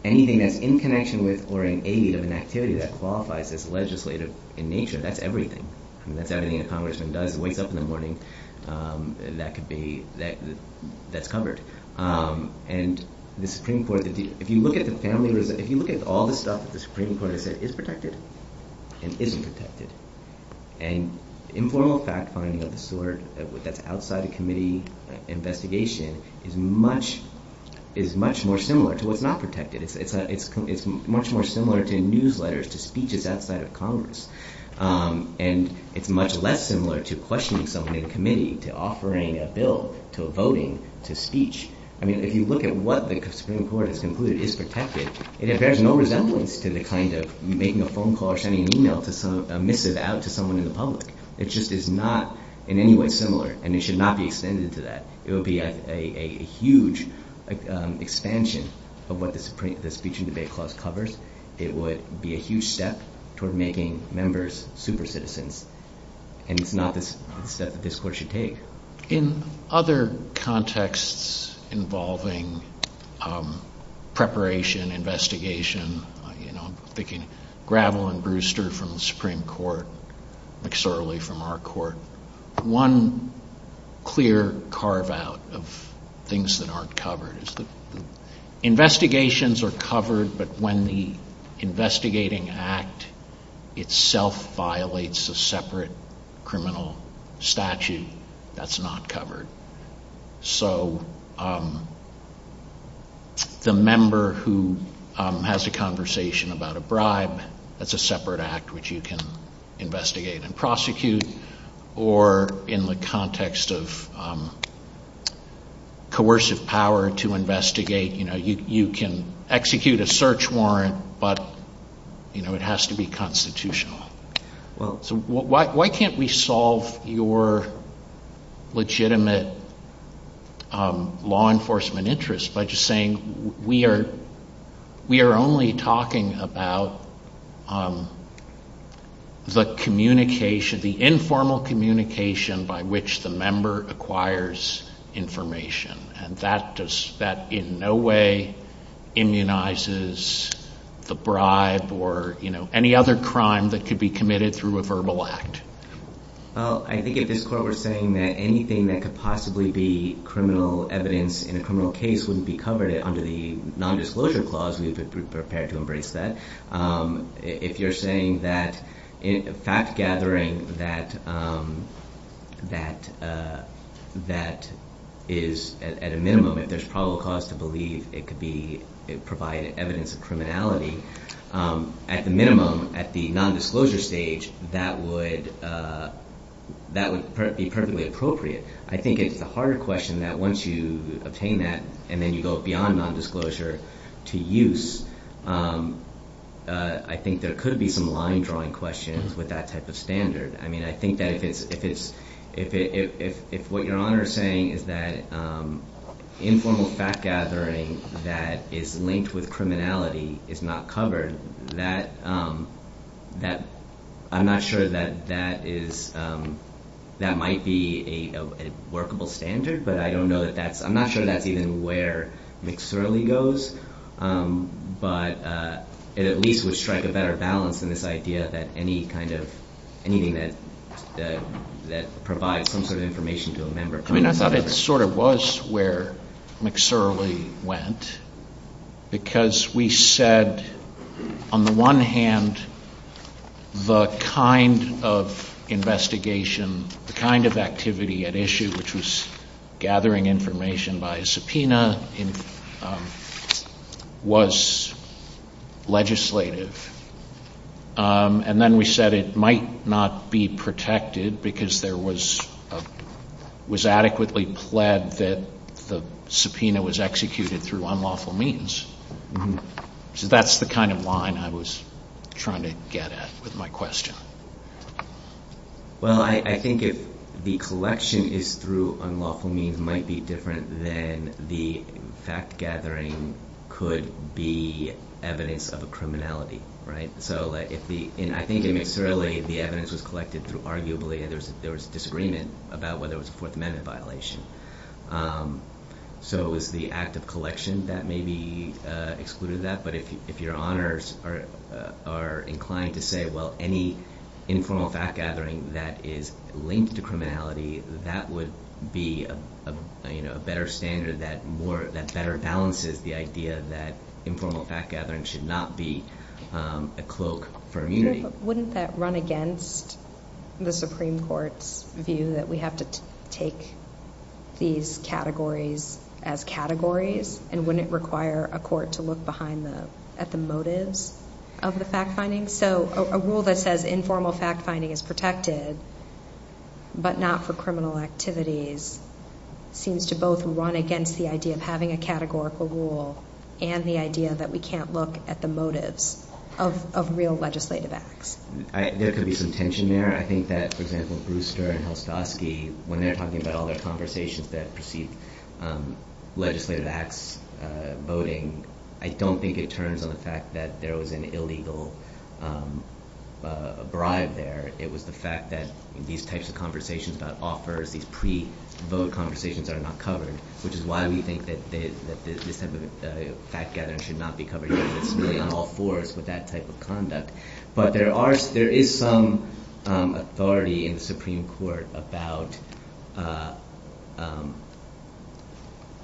anything that's in connection with or in aid of an activity that qualifies as legislative in nature, that's everything. If that Indian congressman does wake up in the morning, that's covered. And the Supreme Court, if you look at the family, if you look at all the stuff that the Supreme Court has said is protected and isn't protected. And informal fact-finding of the sort that's outside the committee investigation is much more similar to what's not protected. It's much more similar to newsletters, to speeches outside of Congress. And it's much less similar to questioning someone in a committee, to offering a bill, to voting, to speech. I mean, if you look at what the Supreme Court has concluded is protected, it bears no resemblance to the kind of making a phone call or sending an email to someone in the public. It just is not in any way similar. And it should not be extended to that. It would be a huge expansion of what the speech and debate clause covers. It would be a huge step toward making members super citizens. And it's not the step that this court should take. In other contexts involving preparation, interrogation, investigation, you know, picking Gravel and Brewster from the Supreme Court, McSorley from our court, one clear carve-out of things that aren't covered is that investigations are covered, but when the investigating act itself violates the separate criminal statute, that's not covered. So the member who has a conversation about a bribe, that's a separate act which you can investigate and prosecute, or in the context of coercive power to investigate, you can execute a search warrant, but it has to be constitutional. Why can't we solve your legitimate law enforcement interest by just saying we are only talking about the communication, the informal communication by which the member acquires information, and that in no way immunizes the bribe or any other crime that could be committed through a verbal act? Well, I think at this court we're saying that anything that could possibly be criminal evidence in a criminal case wouldn't be covered under the nondisclosure clause, and we've been prepared to embrace that. If you're saying that fact-gathering that is, at a minimum, if there's probable cause to believe it could be provided evidence of criminality, at the minimum, at the nondisclosure stage, that would be perfectly appropriate. I think it's a hard question that once you obtain that and then you go beyond nondisclosure to use, I think there could be some line-drawing questions with that type of standard. I think that if what Your Honor is saying is that informal fact-gathering that is linked with criminality is not covered, I'm not sure that that is, that might be a workable standard, but I don't know that that's, I'm not sure that's even where McSorley goes, but it at least would strike a better balance in this idea that any kind of, anything that provides some sort of information to a member. I mean, I thought that it sort of was where McSorley went, because we said, on the one hand, the kind of investigation, the kind of activity at issue, which was gathering information by subpoena, was legislative, and then we said it might not be protected, because there was adequately pled that the subpoena was executed through unlawful means. So that's the kind of line I was trying to get at with my question. Well, I think if the collection is through unlawful means, it might be different than the fact-gathering could be evidence of a criminality, right? I think in McSorley, the evidence was collected through arguably, there was a disagreement about whether it was a Fourth Amendment violation. So it was the act of collection that maybe excluded that, but if your honors are inclined to say, well, any informal fact-gathering that is linked to criminality, that would be a better standard that better balances the idea that informal fact-gathering should not be a cloak for immunity. Wouldn't that run against the Supreme Court's view that we have to take these categories as categories, and wouldn't it require a court to look behind the, at the motives of the fact-finding? So a rule that says informal fact-finding is protected, but not for criminal activities, seems to both run against the idea of having a categorical rule we can't look at the motives of real legislative acts. There could be some tension there. I think that, for example, with Brewster and Hostoski, when they're talking about all their conversations that precede legislative acts, voting, I don't think it turns on the fact that there was an illegal bribe there. It was the fact that these types of conversations that offer these pre-vote conversations that are not covered, which is why we think that this type of fact-gathering should not be covered necessarily on all fours with that type of conduct. But there is some authority in the Supreme Court about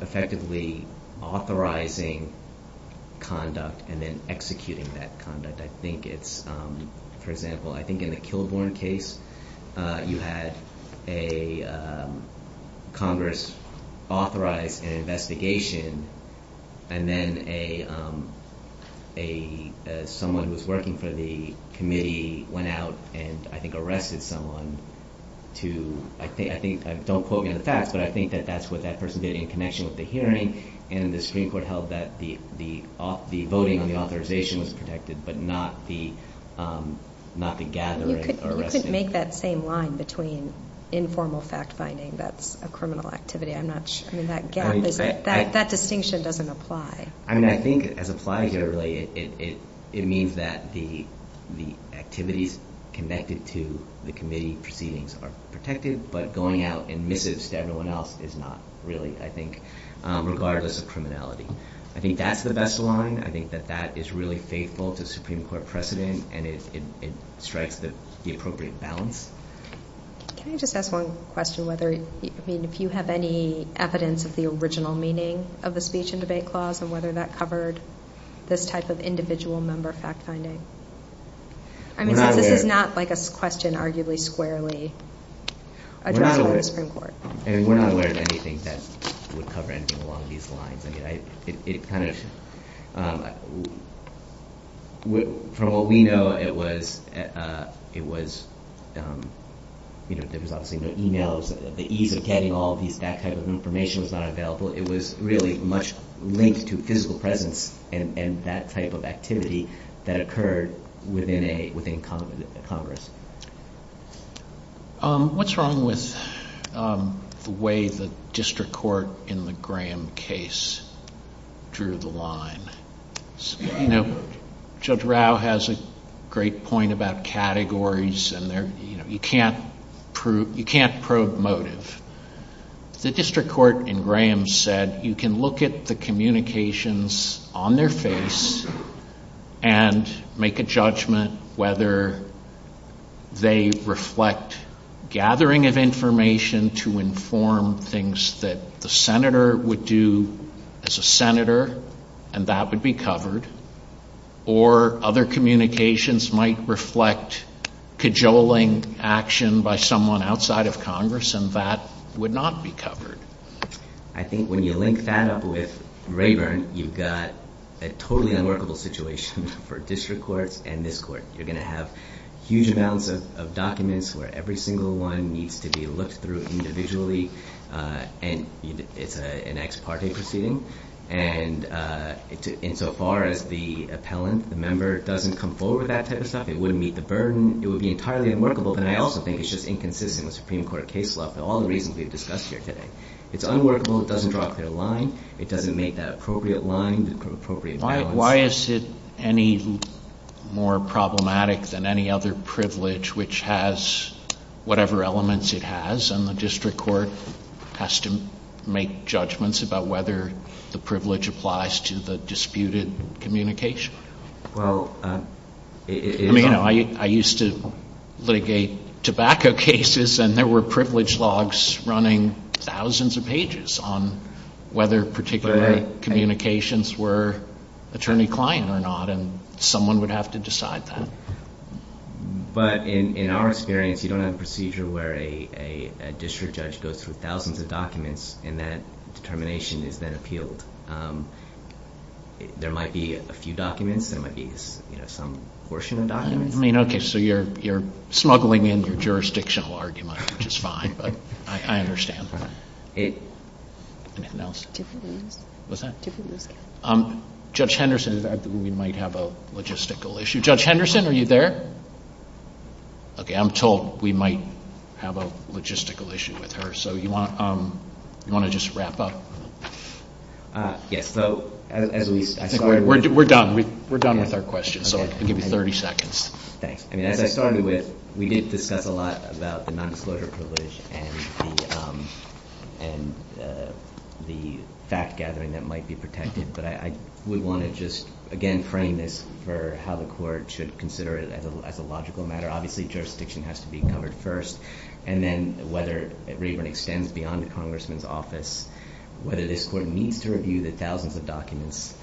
effectively authorizing conduct and then executing that conduct. I think it's, for example, I think in the Kilbourn case, you had a Congress-authorized investigation, and then a someone who was working for the committee went out and, I think, arrested someone to, I think, don't quote me on the facts, but I think that that's what that person did in connection with the hearing, and the Supreme Court held that the voting on the authorization was protected, but not the gathering or arresting. You could make that same line between informal fact-finding that's a criminal activity. I'm not sure. That distinction doesn't apply. I mean, I think as applied here, really, it means that the activities connected to the committee proceedings are protected, but going out and missing someone else is not really, I think, regardless of criminality. I think that's the best line. I think that that is really faithful to Supreme Court precedent, and it strikes the appropriate balance. Can I just ask one question? I mean, if you have any evidence of the original meaning of the speech and debate clause, and whether that covered this type of individual member fact-finding? I mean, this is not, like, a question arguably squarely addressed by the Supreme Court. We're not aware of anything that would cover anything along these lines. I mean, it kind of... From what we know, it was, you know, there was obviously no e-mails. The ease of getting all that type of information was not available. It was really much linked to physical presence and that type of activity that occurred within Congress. What's wrong with the way the district court in the Graham case drew the line? You know, Judge Rao has a great point about categories, and you can't probe motive. The district court in Graham said you can look at the communications on their face and make a judgment whether they reflect gathering of information to inform things that the senator would do as a senator, and that would be covered, or other communications might reflect cajoling action by someone outside of Congress, and that would not be covered. I think when you link that with Rayburn, you've got a totally unworkable situation for district courts and this court. You're going to have huge amounts of documents where every single one needs to be looked through individually, and it's an ex parte proceeding, and insofar as the appellant, the member, doesn't come forward with that type of stuff, it wouldn't meet the burden. It would be entirely unworkable, and I also think it's just inconsistent with Supreme Court case law for all the reasons we've discussed here today. It's unworkable. It doesn't drop the line. It doesn't make that appropriate line. Why is it any more problematic than any other privilege which has whatever elements it has, and the district court has to make judgments about whether the privilege applies to the disputed communication? Well, it... I used to litigate tobacco cases, and there were privilege logs running thousands of pages on whether particular communications were attorney-client or not, and someone would have to decide that. But in our experience, you don't have a procedure where a district judge goes through thousands of documents and that determination is then appealed. There might be a few documents. There might be some portion of documents. I mean, okay, so you're snuggling in the jurisdictional argument, which is fine, but I understand. Anything else? What's that? Judge Henderson said that we might have a logistical issue. Judge Henderson, are you there? Okay, I'm told we might have a logistical issue with her, so you want to just wrap up? Yes, so... We're done. We're done with our questions, so I'll give you 30 seconds. As I started with, we need to discuss a lot about the non-disclosure privilege and the fact-gathering that might be protected, but I would want to just, again, frame this for how the court should consider it as a logical matter. Obviously, jurisdiction has to be covered first, and then whether it really extends beyond the congressman's office, whether this court needs to review the thousands of documents,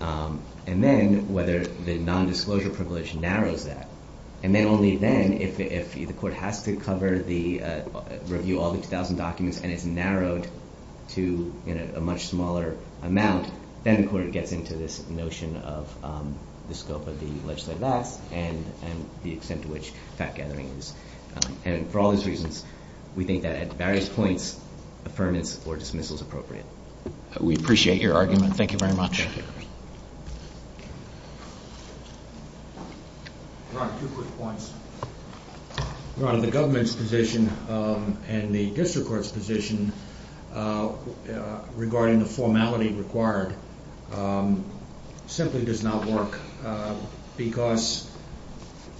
and then whether the non-disclosure privilege narrows that, and then only then, if the court has to cover or review all the 2,000 documents and it's narrowed to a much smaller amount, then the court gets into this notion of the scope of the legislative act and the extent to which fact-gathering is. And for all these reasons, we think that at various points, affirmance or dismissal is appropriate. We appreciate your argument. Thank you very much. Thank you. Ron, a few quick points. Ron, the government's position and the district court's position regarding the formality required simply does not work because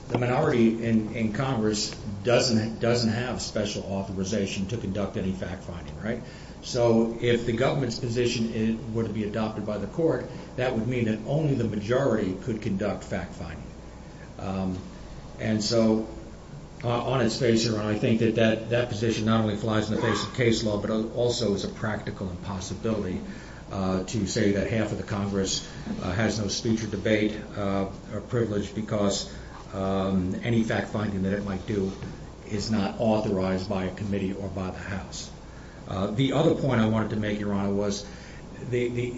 the minority in Congress doesn't have special authorization to conduct any fact-finding, right? So if the government's position were to be adopted by the court, that would mean that only the majority could conduct fact-finding. And so on its face, Ron, I think that that position not only flies in the face of case law but also is a practical impossibility to say that half of the Congress has no speech or debate privilege because any fact-finding that it might do is not authorized by a committee or by the House. The other point I wanted to make, Your Honor, was the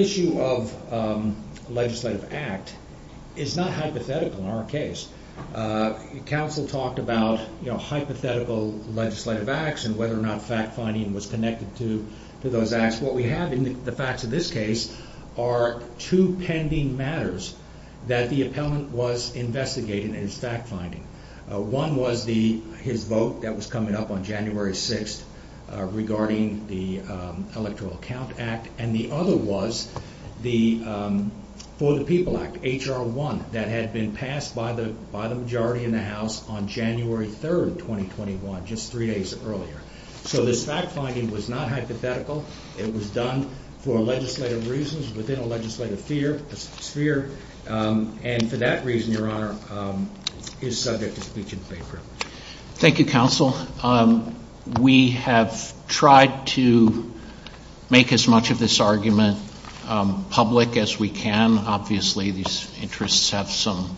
issue of legislative act is not hypothetical in our case. Counsel talked about hypothetical legislative acts and whether or not fact-finding was connected to those acts. What we have in the facts of this case are two pending matters that the appellant was investigating in his fact-finding. One was his vote that was coming up on January 6th regarding the Electoral Count Act, and the other was the For the People Act, H.R. 1, that had been passed by the majority in the House on January 3rd, 2021, just three days earlier. So this fact-finding was not hypothetical. It was done for legislative reasons within a legislative sphere, and for that reason, Your Honor, is subject to speech and debate privilege. Thank you, Counsel. We have tried to make as much of this argument public as we can. Obviously, these interests have some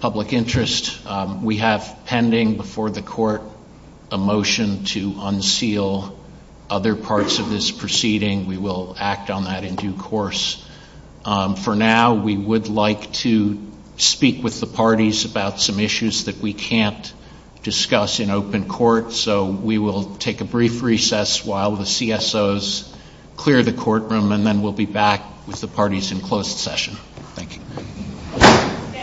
public interest. We have pending before the Court a motion to unseal other parts of this proceeding. We will act on that in due course. For now, we would like to speak with the parties about some issues that we can't discuss in open court, so we will take a brief recess while the CSOs clear the courtroom, and then we'll be back with the parties in closed session. Thank you.